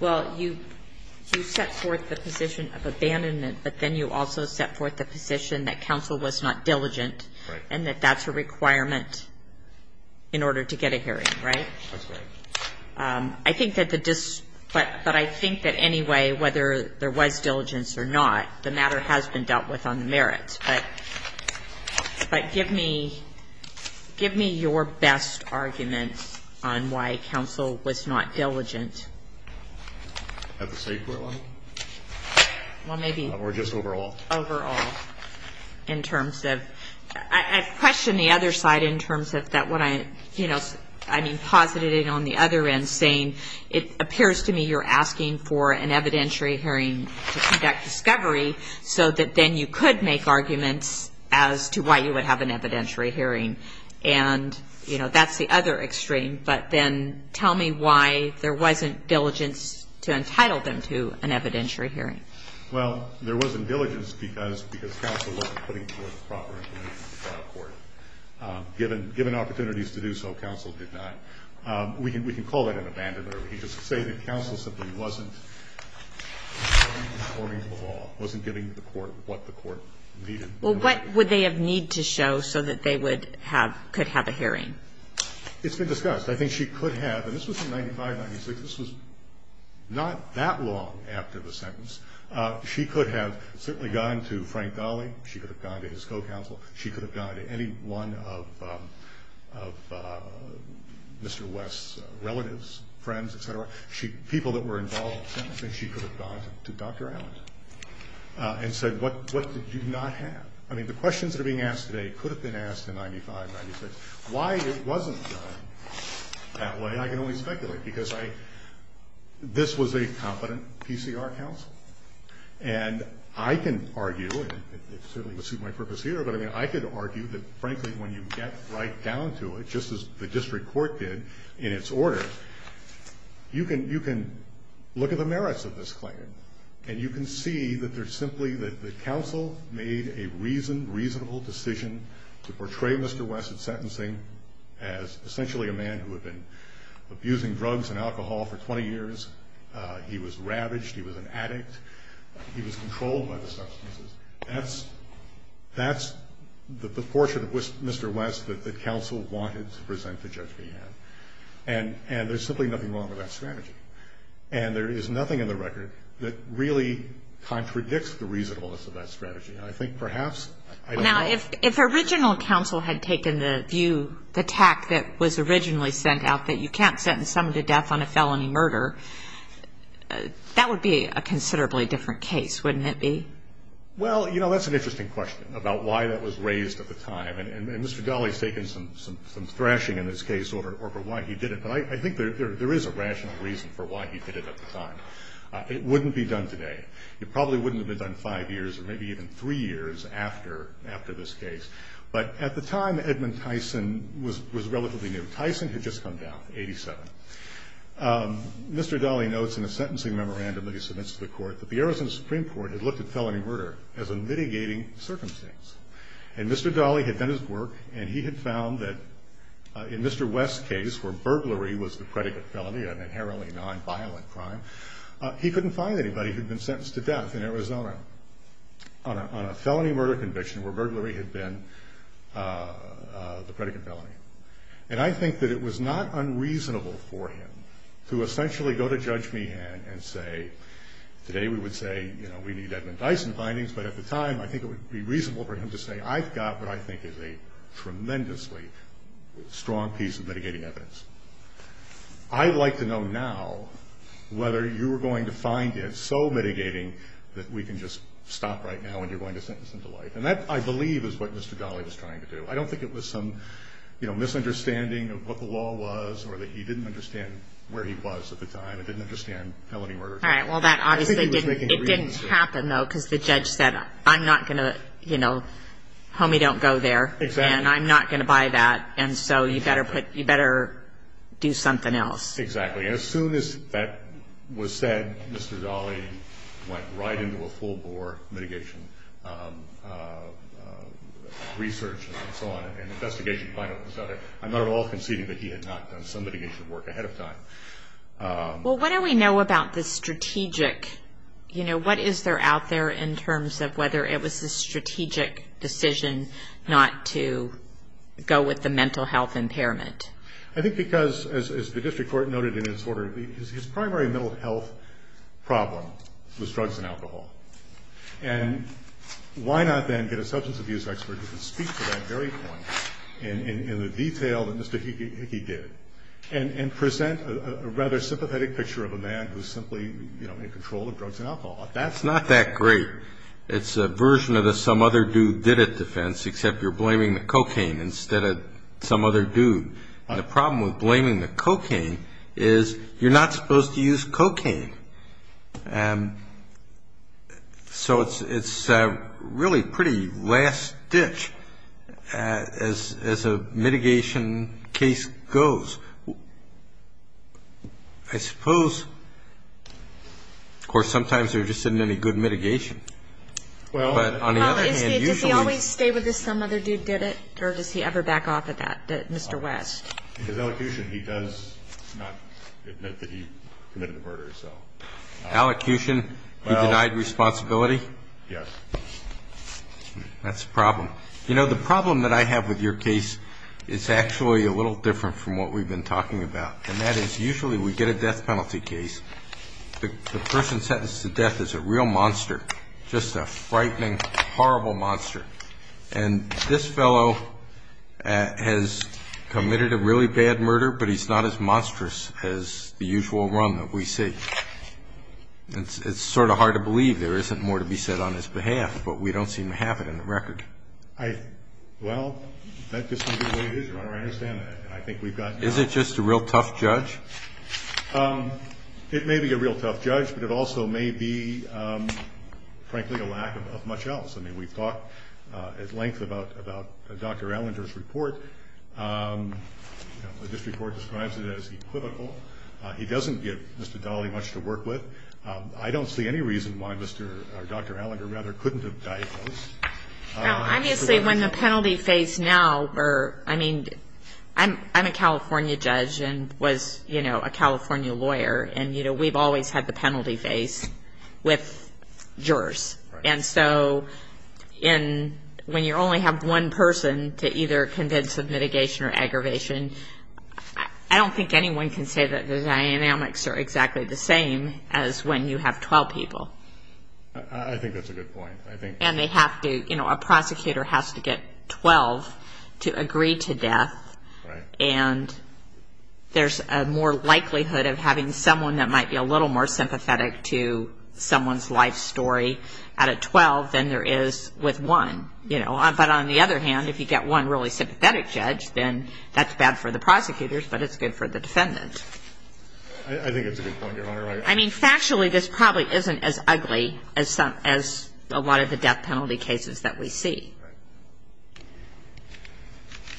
well, you set forth the position of abandonment, but then you also set forth the position that counsel was not diligent and that that's a requirement in order to get a hearing, right? That's right. I think that the district, but I think that anyway, whether there was diligence or not, the matter has been dealt with on the merits. But give me your best argument on why counsel was not diligent. Have a safe word? Well, maybe. Or just overall. Overall. In terms of, I question the other side in terms of that when I, you know, I mean posited it on the other end saying, it appears to me you're asking for an evidentiary hearing to conduct discovery so that then you could make arguments as to why you would have an evidentiary hearing. And, you know, that's the other extreme. But then tell me why there wasn't diligence to entitle them to an evidentiary hearing. Well, there wasn't diligence because counsel wasn't putting forth the proper information to the court. Given opportunities to do so, counsel did not. We can call that an abandonment. We can just say that counsel simply wasn't giving the court what the court needed. Well, what would they have need to show so that they could have a hearing? It's been discussed. I think she could have, and this was in 1995, 1996. This was not that long after the sentence. She could have certainly gone to Frank Dolly. She could have gone to his co-counsel. She could have gone to any one of Mr. West's relatives, friends, et cetera, people that were involved. She could have gone to Dr. Allison and said, what did you not have? I mean, the questions that are being asked today could have been asked in 1995, 1996. Why it wasn't done that way I can only speculate because this was a competent PCR counsel. And I can argue, and it certainly would suit my purpose here, but I could argue that, frankly, when you get right down to it, just as the district court did in its order, you can look at the merits of this claim. And you can see that there's simply that the counsel made a reasonable decision to portray Mr. West's sentencing as essentially a man who had been abusing drugs and alcohol for 20 years. He was ravaged. He was an addict. He was controlled by the substances. That's the portion of Mr. West that the counsel wanted to present the judge to him. And there's simply nothing wrong with that strategy. And there is nothing in the record that really contradicts the reasonableness of that strategy. And I think, perhaps, I don't know. Now, if original counsel had taken the view, the tact that was originally sent out, that you can't sentence someone to death on a felony murder, that would be a considerably different case, wouldn't it be? Well, you know, that's an interesting question about why that was raised at the time. And Mr. Ghaly has taken some thrashing in this case over why he did it. But I think there is a rational reason for why he did it at the time. It wouldn't be done today. It probably wouldn't have been done five years or maybe even three years after this case. But at the time, Edmund Tyson was relatively new. Tyson had just come down in 87. Mr. Ghaly notes in a sentencing memorandum that he submits to the court that the Arizona Supreme Court had looked at felony murder as a mitigating circumstance. And Mr. Ghaly had done his work, and he had found that in Mr. West's case, where burglary was the credit of felony, an inherently nonviolent crime, he couldn't find anybody who had been sentenced to death in Arizona on a felony murder conviction where burglary had been the credit of felony. And I think that it was not unreasonable for him to essentially go to Judge Meehan and say, today we would say, you know, we need Edmund Tyson findings, but at the time I think it would be reasonable for him to say, I've got what I think is a tremendously strong piece of mitigating evidence. I'd like to know now whether you are going to find it so mitigating that we can just stop right now and you're going to sentence him to life. And that, I believe, is what Mr. Ghaly was trying to do. I don't think it was some, you know, misunderstanding of what the law was or that he didn't understand where he was at the time, or didn't understand felony murder. All right, well, that obviously didn't happen, though, because the judge said, I'm not going to, you know, tell me don't go there, and I'm not going to buy that, and so you better put, you better do something else. Exactly. And as soon as that was said, Mr. Ghaly went right into a full-bore mitigation research and so on, and the investigation finally started. I'm not at all conceding that he had not done some mitigating work ahead of time. Well, what do we know about the strategic, you know, what is there out there in terms of whether it was a strategic decision not to go with the mental health impairment? I think because, as the district court noted in its order, his primary mental health problem was drugs and alcohol. And why not then get a substance abuse expert who can speak to that very point in the detail that Mr. Hickey did and present a rather sympathetic picture of a man who's simply, you know, in control of drugs and alcohol? That's not that great. It's a version of the some other dude did it defense, except you're blaming the cocaine instead of some other dude. The problem with blaming the cocaine is you're not supposed to use cocaine. So it's really pretty last-ditch as a mitigation case goes. I suppose, of course, sometimes there just isn't any good mitigation. Well, did he always stay with this some other dude did it, or does he ever back off of that, Mr. West? In his elocution, he does not admit that he committed the murder. In his elocution, he denied responsibility? Yes. That's a problem. You know, the problem that I have with your case is actually a little different from what we've been talking about, and that is usually we get a death penalty case. The person sentenced to death is a real monster, just a frightening, horrible monster. And this fellow has committed a really bad murder, but he's not as monstrous as the usual one that we see. It's sort of hard to believe there isn't more to be said on his behalf, but we don't seem to have it on the record. Well, that just may be the way it is. I understand that. I think we've got enough. Is it just a real tough judge? It may be a real tough judge, but it also may be, frankly, a lack of much else. I mean, we've talked at length about Dr. Allinger's report. This report describes it as equivocal. He doesn't get, Mr. Daly, much to work with. I don't see any reason why Dr. Allinger rather couldn't have died. Honestly, when the penalty phase now, I mean, I'm a California judge and was, you know, a California lawyer, and, you know, we've always had the penalty phase with jurors. And so when you only have one person to either convince of mitigation or aggravation, I don't think anyone can say that the dynamics are exactly the same as when you have 12 people. I think that's a good point. And they have to, you know, a prosecutor has to get 12 to agree to death, and there's a more likelihood of having someone that might be a little more sympathetic to someone's life story out of 12 than there is with one, you know. But on the other hand, if you get one really sympathetic judge, then that's bad for the prosecutors, but it's good for the defendants. I think it's a good point, Your Honor. I mean, factually, this probably isn't as ugly as a lot of the death penalty cases that we see.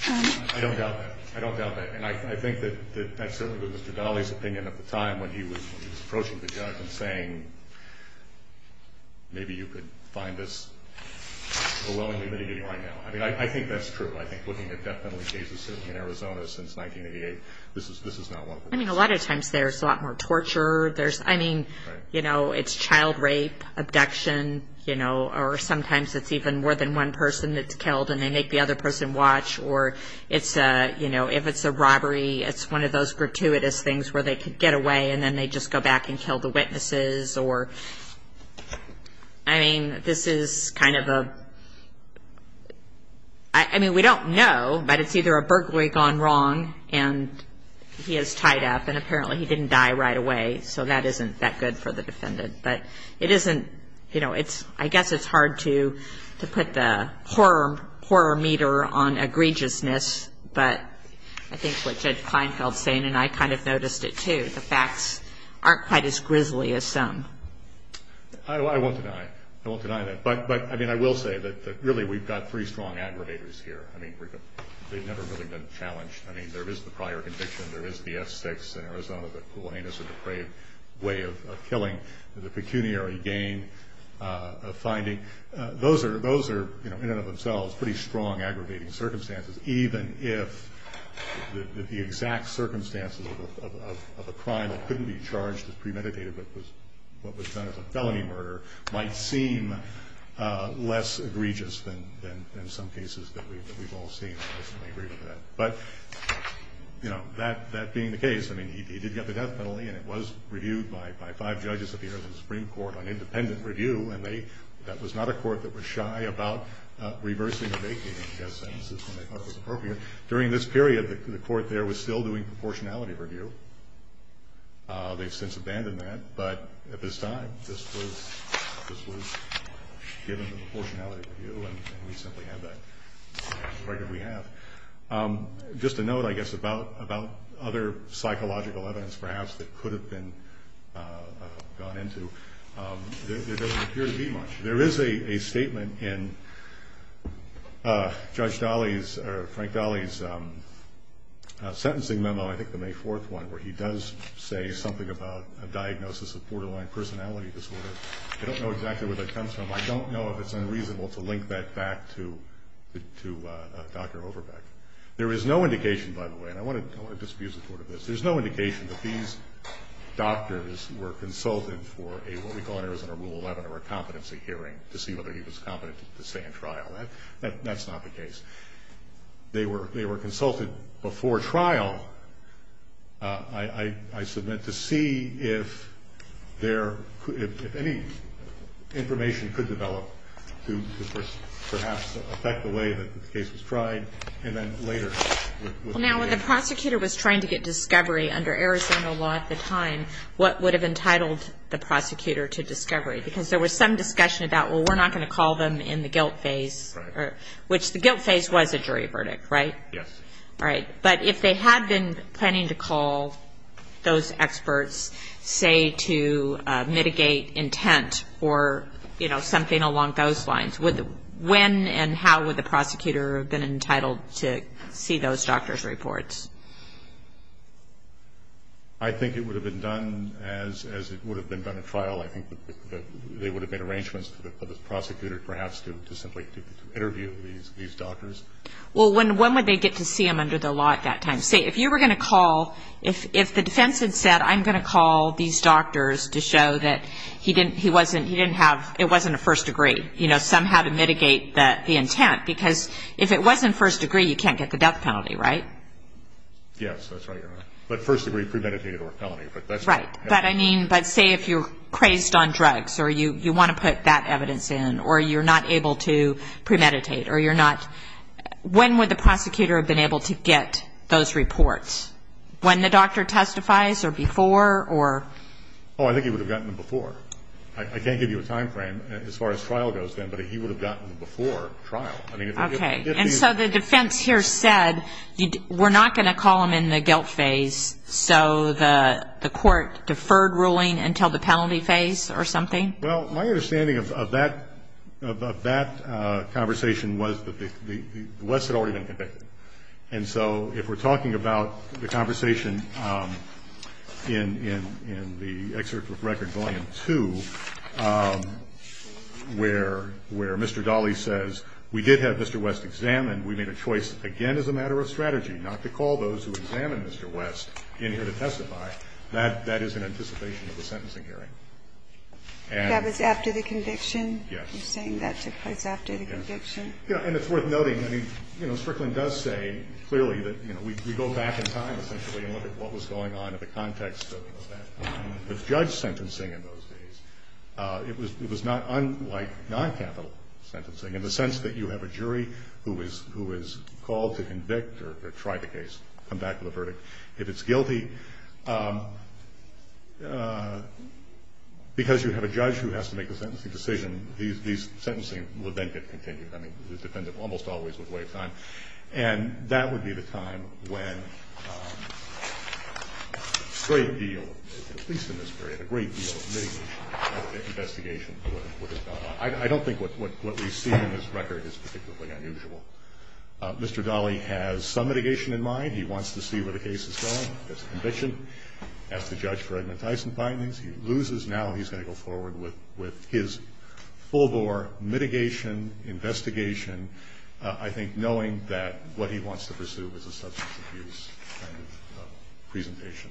Right. I don't doubt that. I don't doubt that. And I think that that's certainly Mr. Dahle's opinion at the time when he was approaching the judge and saying, maybe you could find this a well-intended mitigation right now. I mean, I think that's true. I think looking at death penalty cases certainly in Arizona since 1988, this is not one of them. I mean, a lot of times there's a lot more torture. I mean, you know, it's child rape, abduction, you know, or sometimes it's even more than one person that's killed and they make the other person watch. Or if it's a robbery, it's one of those gratuitous things where they could get away and then they just go back and kill the witnesses. I mean, this is kind of a – I mean, we don't know, but it's either a burglary gone wrong and he is tied up and apparently he didn't die right away, so that isn't that good for the defendant. But it isn't – you know, I guess it's hard to put the horror meter on egregiousness, but I think what Judge Kleinfeld is saying, and I kind of noticed it too, the facts aren't quite as grisly as some. I won't deny that. But, I mean, I will say that really we've got three strong aggregators here. I mean, they've never really been challenged. I mean, there is the prior conviction, there is the F6 in Arizona, but Kool-Aid isn't a great way of killing. There's a pecuniary gain of finding. Those are, in and of themselves, pretty strong aggregating circumstances, even if the exact circumstances of a crime that couldn't be charged as premeditated but was done as a felony murder might seem less egregious than some cases that we've all seen. But, you know, that being the case, I mean, he did have a death penalty and it was reviewed by five judges at the Arizona Supreme Court on independent review, and that was not a court that was shy about reversing a date in its sentences when they thought it was appropriate. During this period, the court there was still doing proportionality review. They've since abandoned that, but at this time, this was given the proportionality review and we simply have that record we have. Just to note, I guess, about other psychological evidence perhaps that could have been gone into, there doesn't appear to be much. There is a statement in Judge Dolly's or Frank Dolly's sentencing memo, I think the May 4th one, where he does say something about a diagnosis of borderline personality disorder. I don't know exactly where that comes from. I don't know if it's unreasonable to link that back to Dr. Overbeck. There is no indication, by the way, and I want to just be supportive of this, there's no indication that these doctors were consulted for a, what we call in Arizona, a rule 11 or a competency hearing to see whether he was competent to stand trial. That's not the case. They were consulted before trial, I submit, to see if there, if any information could develop to perhaps affect the way that the case is tried and then later. Now, when the prosecutor was trying to get discovery under Arizona law at the time, what would have entitled the prosecutor to discovery? Because there was some discussion about, well, we're not going to call them in the guilt phase, which the guilt phase was the jury verdict, right? Yes. Right. But if they had been planning to call those experts, say, to mitigate intent or, you know, something along those lines, when and how would the prosecutor have been entitled to see those doctors' reports? I think it would have been done as it would have been done at trial. I think they would have made arrangements for the prosecutor perhaps to simply interview these doctors. Well, when would they get to see him under the law at that time? Say, if you were going to call, if the defense had said, I'm going to call these doctors to show that he didn't, he wasn't, he didn't have, it wasn't a first degree, you know, somehow to mitigate the intent, because if it wasn't first degree, you can't get the death penalty, right? Yes, that's right. But first degree premeditated or a felony. Right. But, I mean, but say if you're crazed on drugs or you want to put that evidence in or you're not able to premeditate or you're not, when would the prosecutor have been able to get those reports? When the doctor testifies or before or? Oh, I think he would have gotten them before. I can't give you a time frame as far as trial goes then, but he would have gotten them before trial. Okay. And so the defense here said, we're not going to call them in the guilt phase so the court deferred ruling until the penalty phase or something? Well, my understanding of that, of that conversation was that the West had already been convicted. And so if we're talking about the conversation in the excerpt from record volume two, where Mr. Dahle says, we did have Mr. West examined, we made a choice, again, as a matter of strategy, not to call those who examined Mr. West in here to testify, that is in anticipation of the sentencing hearing. That was after the conviction? Yes. You're saying that took place after the conviction? Yes. And it's worth noting, I mean, Strickland does say clearly that, you know, we go back in time potentially and look at what was going on in the context of the judge's sentencing in those days. It was not unlike noncapital sentencing in the sense that you have a jury who is called to convict or try the case, come back with a verdict. If it's guilty, because you have a judge who has to make the sentencing decision, these sentencing would then get continued. I mean, the defendant almost always would wait a time. And that would be the time when a great deal, at least in this period, a great deal of media had an investigation into what had gone on. I don't think what we've seen in this record is particularly unusual. Mr. Dahle has some mitigation in mind. He wants to see where the case is going. It's a conviction. He has to judge for Edmund Tyson findings. He loses. Now he's got to go forward with his full-blown mitigation investigation, I think knowing that what he wants to pursue is a substance abuse kind of presentation.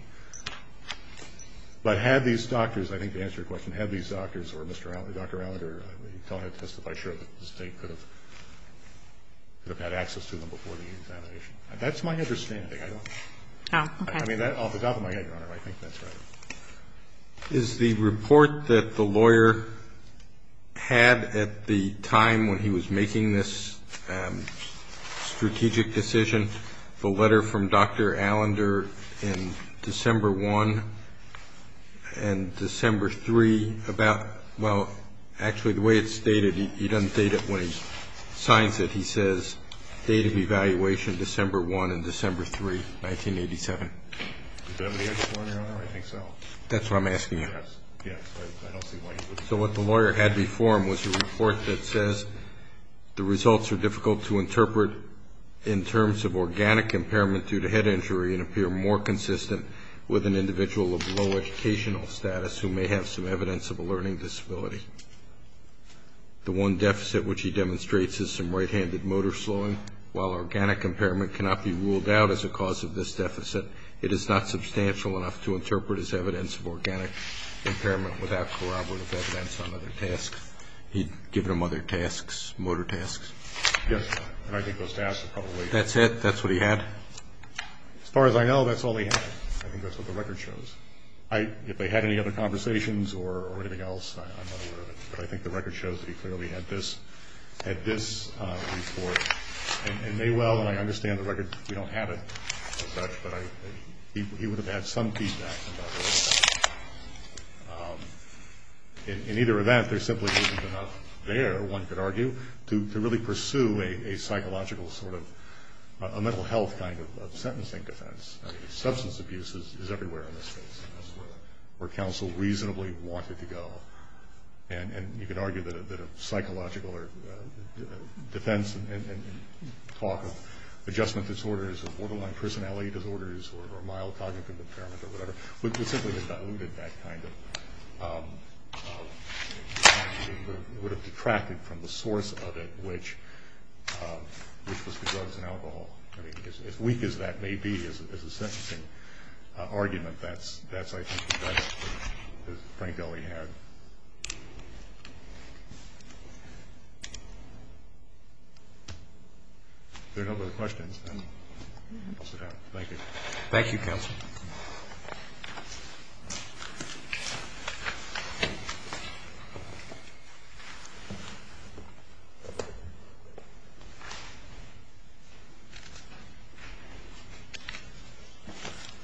But had these doctors, I think to answer your question, had these doctors or Dr. Allender, I'm not sure that the state could have had access to them before the investigation. That's my understanding. I don't know. I mean, off the top of my head, I think that's right. Is the report that the lawyer had at the time when he was making this strategic decision, the letter from Dr. Allender in December 1 and December 3 about, well, actually the way it's dated, he doesn't date it when he signs it. He says, date of evaluation, December 1 and December 3, 1987. Is that what you're referring to? I think so. That's what I'm asking you. Yes. So what the lawyer had before him was a report that says the results are difficult to interpret in terms of organic impairment due to head injury and appear more consistent with an individual of low educational status who may have some evidence of a learning disability. The one deficit which he demonstrates is some right-handed motor slowing. While organic impairment cannot be ruled out as a cause of this deficit, it is not substantial enough to interpret as evidence of organic impairment without collaborative evidence on other tasks. He'd given them other tasks, motor tasks. Yes. And I think those tasks are probably... That's it? That's what he had? As far as I know, that's all he had. I think that's what the record shows. If they had any other conversations or anything else, I'm not aware of it, but I think the record shows that he clearly had this report. It may well, and I understand the record, we don't have it, but he would have had some feedback about the report. In either event, there simply wasn't enough there, one could argue, to really pursue a psychological sort of mental health kind of sentencing defense. Substance abuse is everywhere in this space, where counsel reasonably wanted to go. And you could argue that a psychological defense and talk of adjustment disorders and borderline personality disorders or mild cognitive impairment or whatever would simply have diluted that kind of... would have detracted from the source of it, which was the drugs and alcohol. As weak as that may be as a sentencing argument, that's, I think, the best thing that we had. If there are no other questions, then I'll sit down. Thank you, counsel.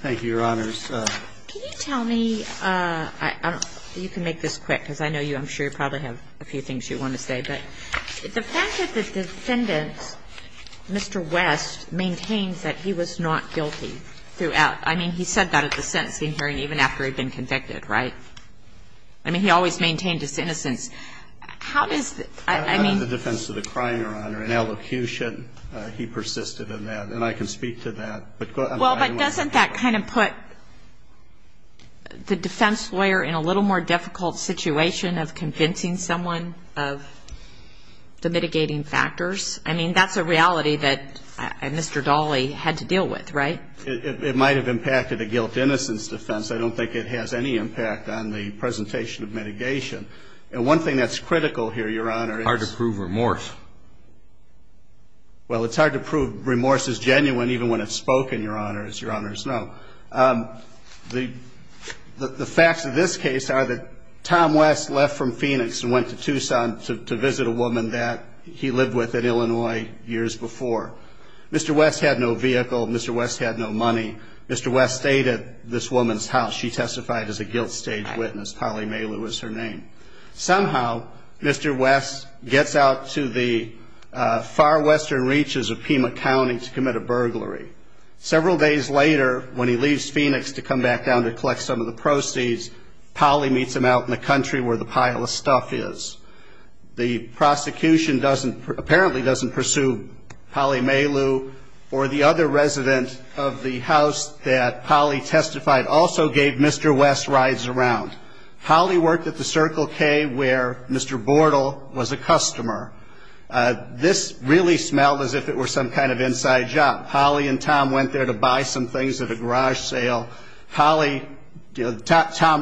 Thank you. Thank you, Your Honors. Can you tell me, you can make this quick because I know you, I'm sure, probably have a few things you want to say, but the fact that the defendant, Mr. West, maintains that he was not guilty throughout, I mean, he said that at the sentencing hearing even after he'd been convicted, right? I mean, he always maintained his innocence. How does, I mean... That's the defense of the crime, Your Honor. In elocution, he persisted in that, and I can speak to that. Well, but doesn't that kind of put the defense lawyer in a little more difficult situation of convincing someone of the mitigating factors? I mean, that's a reality that Mr. Dawley had to deal with, right? It might have impacted the guilt-innocence defense. I don't think it has any impact on the presentation of mitigation. And one thing that's critical here, Your Honor, is... It's hard to prove remorse. Well, it's hard to prove remorse is genuine even when it's spoken, Your Honors. Now, the facts of this case are that Tom West left from Phoenix and went to Tucson to visit a woman that he lived with in Illinois years before. Mr. West had no vehicle. Mr. West had no money. Mr. West stayed at this woman's house. She testified as a guilt-stage witness. Polly Maylou is her name. Somehow, Mr. West gets out to the far western reaches of Pima County to commit a burglary. Several days later, when he leaves Phoenix to come back down to collect some of the proceeds, Polly meets him out in the country where the pile of stuff is. The prosecution apparently doesn't pursue Polly Maylou, or the other residents of the house that Polly testified also gave Mr. West rides around. Polly worked at the Circle K where Mr. Bortle was a customer. This really smelled as if it were some kind of inside job. Polly and Tom went there to buy some things at a garage sale. Tom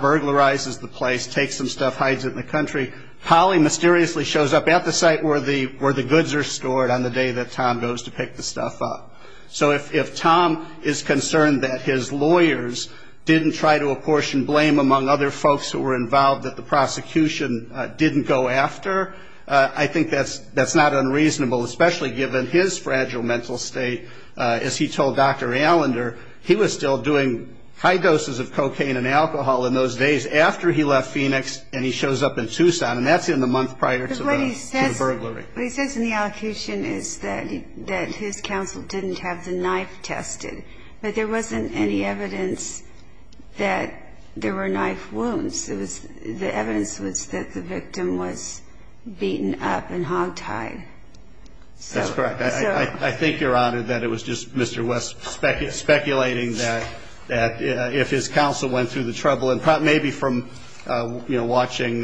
burglarizes the place, takes some stuff, hides it in the country. Polly mysteriously shows up at the site where the goods are stored on the day that Tom goes to pick the stuff up. So if Tom is concerned that his lawyers didn't try to apportion blame among other folks who were involved, that the prosecution didn't go after, I think that's not unreasonable, especially given his fragile mental state. As he told Dr. Allender, he was still doing high doses of cocaine and alcohol in those days after he left Phoenix and he shows up in Tucson, and that's in the month prior to the burglary. What he says in the accusation is that his counsel didn't have the knife tested, but there wasn't any evidence that there were knife wounds. The evidence was that the victim was beaten up and hogtied. That's correct. I think you're right in that it was just Mr. West speculating that if his counsel went through the trouble, and maybe from watching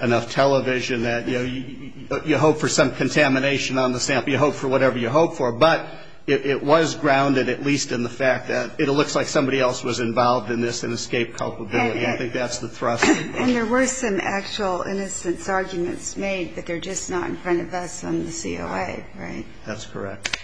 enough television that you hope for some contamination on the family, you hope for whatever you hope for, but it was grounded at least in the fact that it looks like somebody else was involved in this and escaped culpability. I think that's the process. And there were some actual innocence arguments made that they're just not in front of us on the COI, right? That's correct.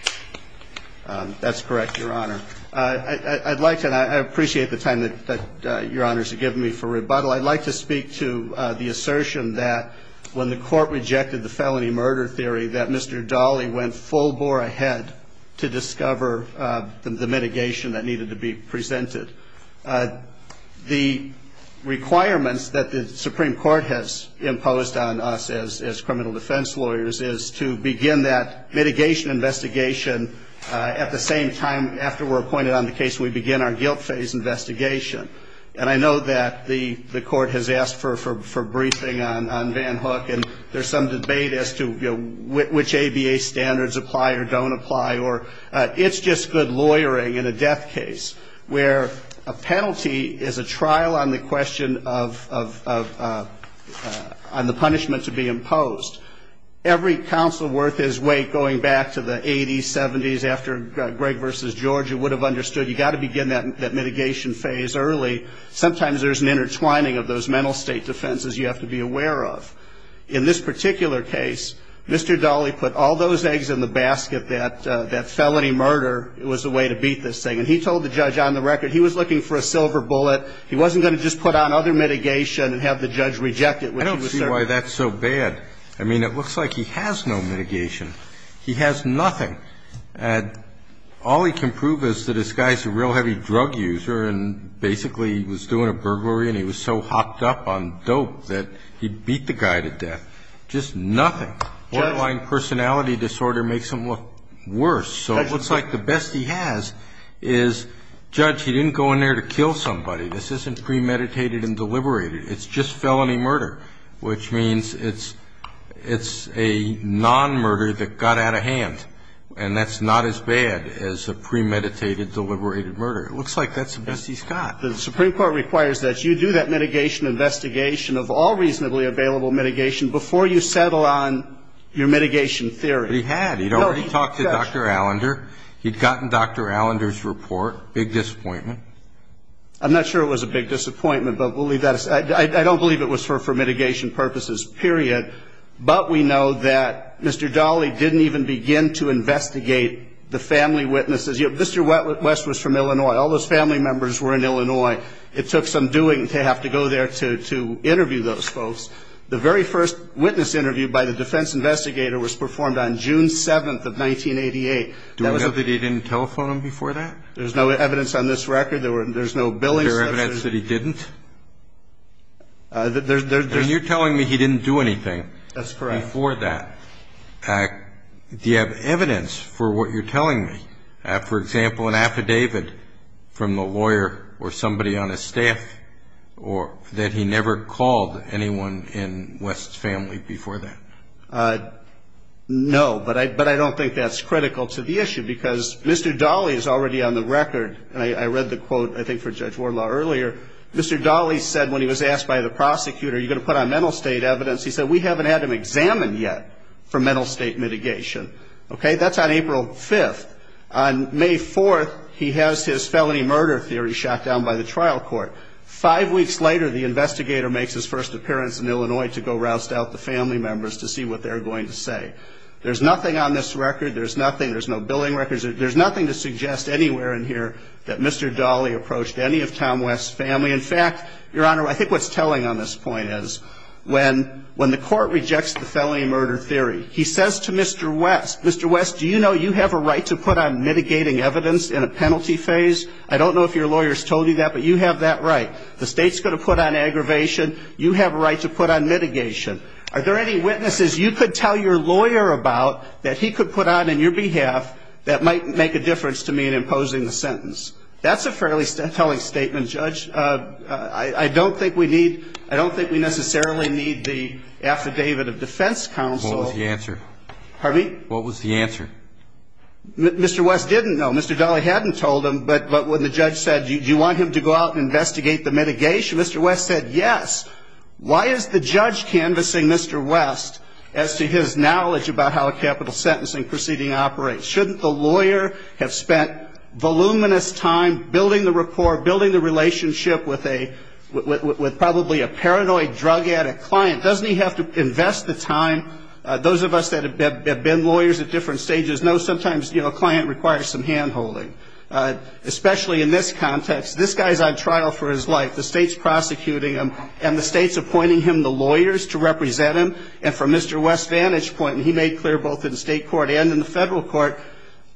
That's correct, Your Honor. I'd like to, and I appreciate the time that Your Honor has given me for rebuttal, I'd like to speak to the assertion that when the court rejected the felony murder theory, that Mr. Dali went full bore ahead to discover the mitigation that needed to be presented. The requirements that the Supreme Court has imposed on us as criminal defense lawyers is to begin that mitigation investigation at the same time after we're appointed on the case we begin our guilt phase investigation. And I know that the court has asked for a briefing on Van Hook, and there's some debate as to which ABA standards apply or don't apply. It's just good lawyering in a death case where a penalty is a trial on the question of the punishment to be imposed. Every counsel worth his weight going back to the 80s, 70s, after Greg versus George, you would have understood you've got to begin that mitigation phase early. Sometimes there's an intertwining of those mental state defenses you have to be aware of. In this particular case, Mr. Dali put all those eggs in the basket that felony murder was a way to beat this thing. And he told the judge on the record he was looking for a silver bullet. He wasn't going to just put on other mitigation and have the judge reject it. I don't see why that's so bad. I mean, it looks like he has no mitigation. He has nothing. All he can prove is that this guy's a real heavy drug user and basically was doing a burglary and he was so hopped up on dope that he beat the guy to death. Just nothing. Jet lag personality disorder makes him look worse. So it looks like the best he has is, judge, he didn't go in there to kill somebody. This isn't premeditated and deliberated. It's just felony murder, which means it's a non-murder that got out of hand. And that's not as bad as a premeditated, deliberated murder. It looks like that's the best he's got. The Supreme Court requires that you do that mitigation investigation of all reasonably available mitigation before you settle on your mitigation theory. He had. He'd already talked to Dr. Allender. He'd gotten Dr. Allender's report. Big disappointment. I'm not sure it was a big disappointment. I don't believe it was for mitigation purposes, period. But we know that Mr. Dolly didn't even begin to investigate the family witnesses. Mr. West was from Illinois. All those family members were in Illinois. It took some doing to have to go there to interview those folks. The very first witness interview by the defense investigator was performed on June 7th of 1988. Do we know that he didn't telephone him before that? There's no evidence on this record. There's no billing. Is there evidence that he didn't? You're telling me he didn't do anything. That's correct. Before that. Do you have evidence for what you're telling me? For example, an affidavit from a lawyer or somebody on his staff or that he never called anyone in West's family before that? No, but I don't think that's critical to the issue because Mr. Dolly is already on the record. I read the quote, I think, for Judge Warlaw earlier. Mr. Dolly said when he was asked by the prosecutor, are you going to put on mental state evidence, he said, we haven't had him examined yet for mental state mitigation. Okay, that's on April 5th. On May 4th, he has his felony murder theory shot down by the trial court. Five weeks later, the investigator makes his first appearance in Illinois to go roust out the family members to see what they're going to say. There's nothing on this record. There's nothing. There's no billing records. There's nothing to suggest anywhere in here that Mr. Dolly approached any of Tom West's family. In fact, Your Honor, I think what's telling on this point is when the court rejects the felony murder theory, he says to Mr. West, Mr. West, do you know you have a right to put on mitigating evidence in a penalty phase? I don't know if your lawyer's told you that, but you have that right. The state's going to put on aggravation. You have a right to put on mitigation. Are there any witnesses you could tell your lawyer about that he could put on on your behalf that might make a difference to me in imposing a sentence? That's a fairly telling statement, Judge. I don't think we necessarily need the affidavit of defense counsel. What was the answer? Pardon me? What was the answer? Mr. West didn't know. Mr. Dolly hadn't told him, but when the judge said, do you want him to go out and investigate the mitigation, Mr. West said yes. Why is the judge canvassing Mr. West as to his knowledge about how a capital sentencing proceeding operates? Shouldn't the lawyer have spent voluminous time building the rapport, building the relationship with probably a paranoid, drug addict client? Doesn't he have to invest the time? Those of us that have been lawyers at different stages know sometimes a client requires some hand-holding, especially in this context. This guy's on trial for his life. The state's prosecuting him, and the state's appointing him the lawyers to represent him. And from Mr. West's vantage point, and he made clear both in the state court and in the federal court,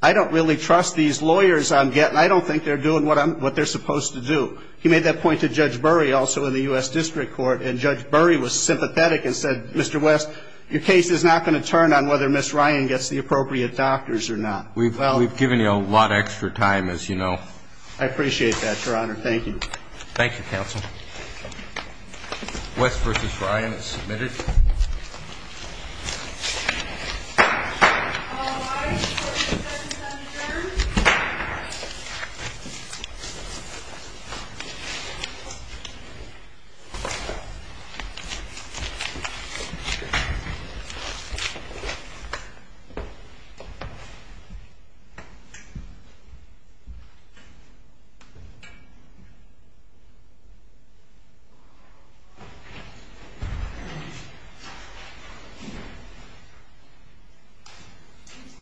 I don't really trust these lawyers I'm getting. I don't think they're doing what they're supposed to do. He made that point to Judge Burry also in the U.S. District Court, and Judge Burry was sympathetic and said, Mr. West, your case is not going to turn on whether Ms. Ryan gets the appropriate doctors or not. We've given you a lot of extra time, as you know. Thank you. Thank you, counsel. Mr. West versus Ryan is submitted. Thank you.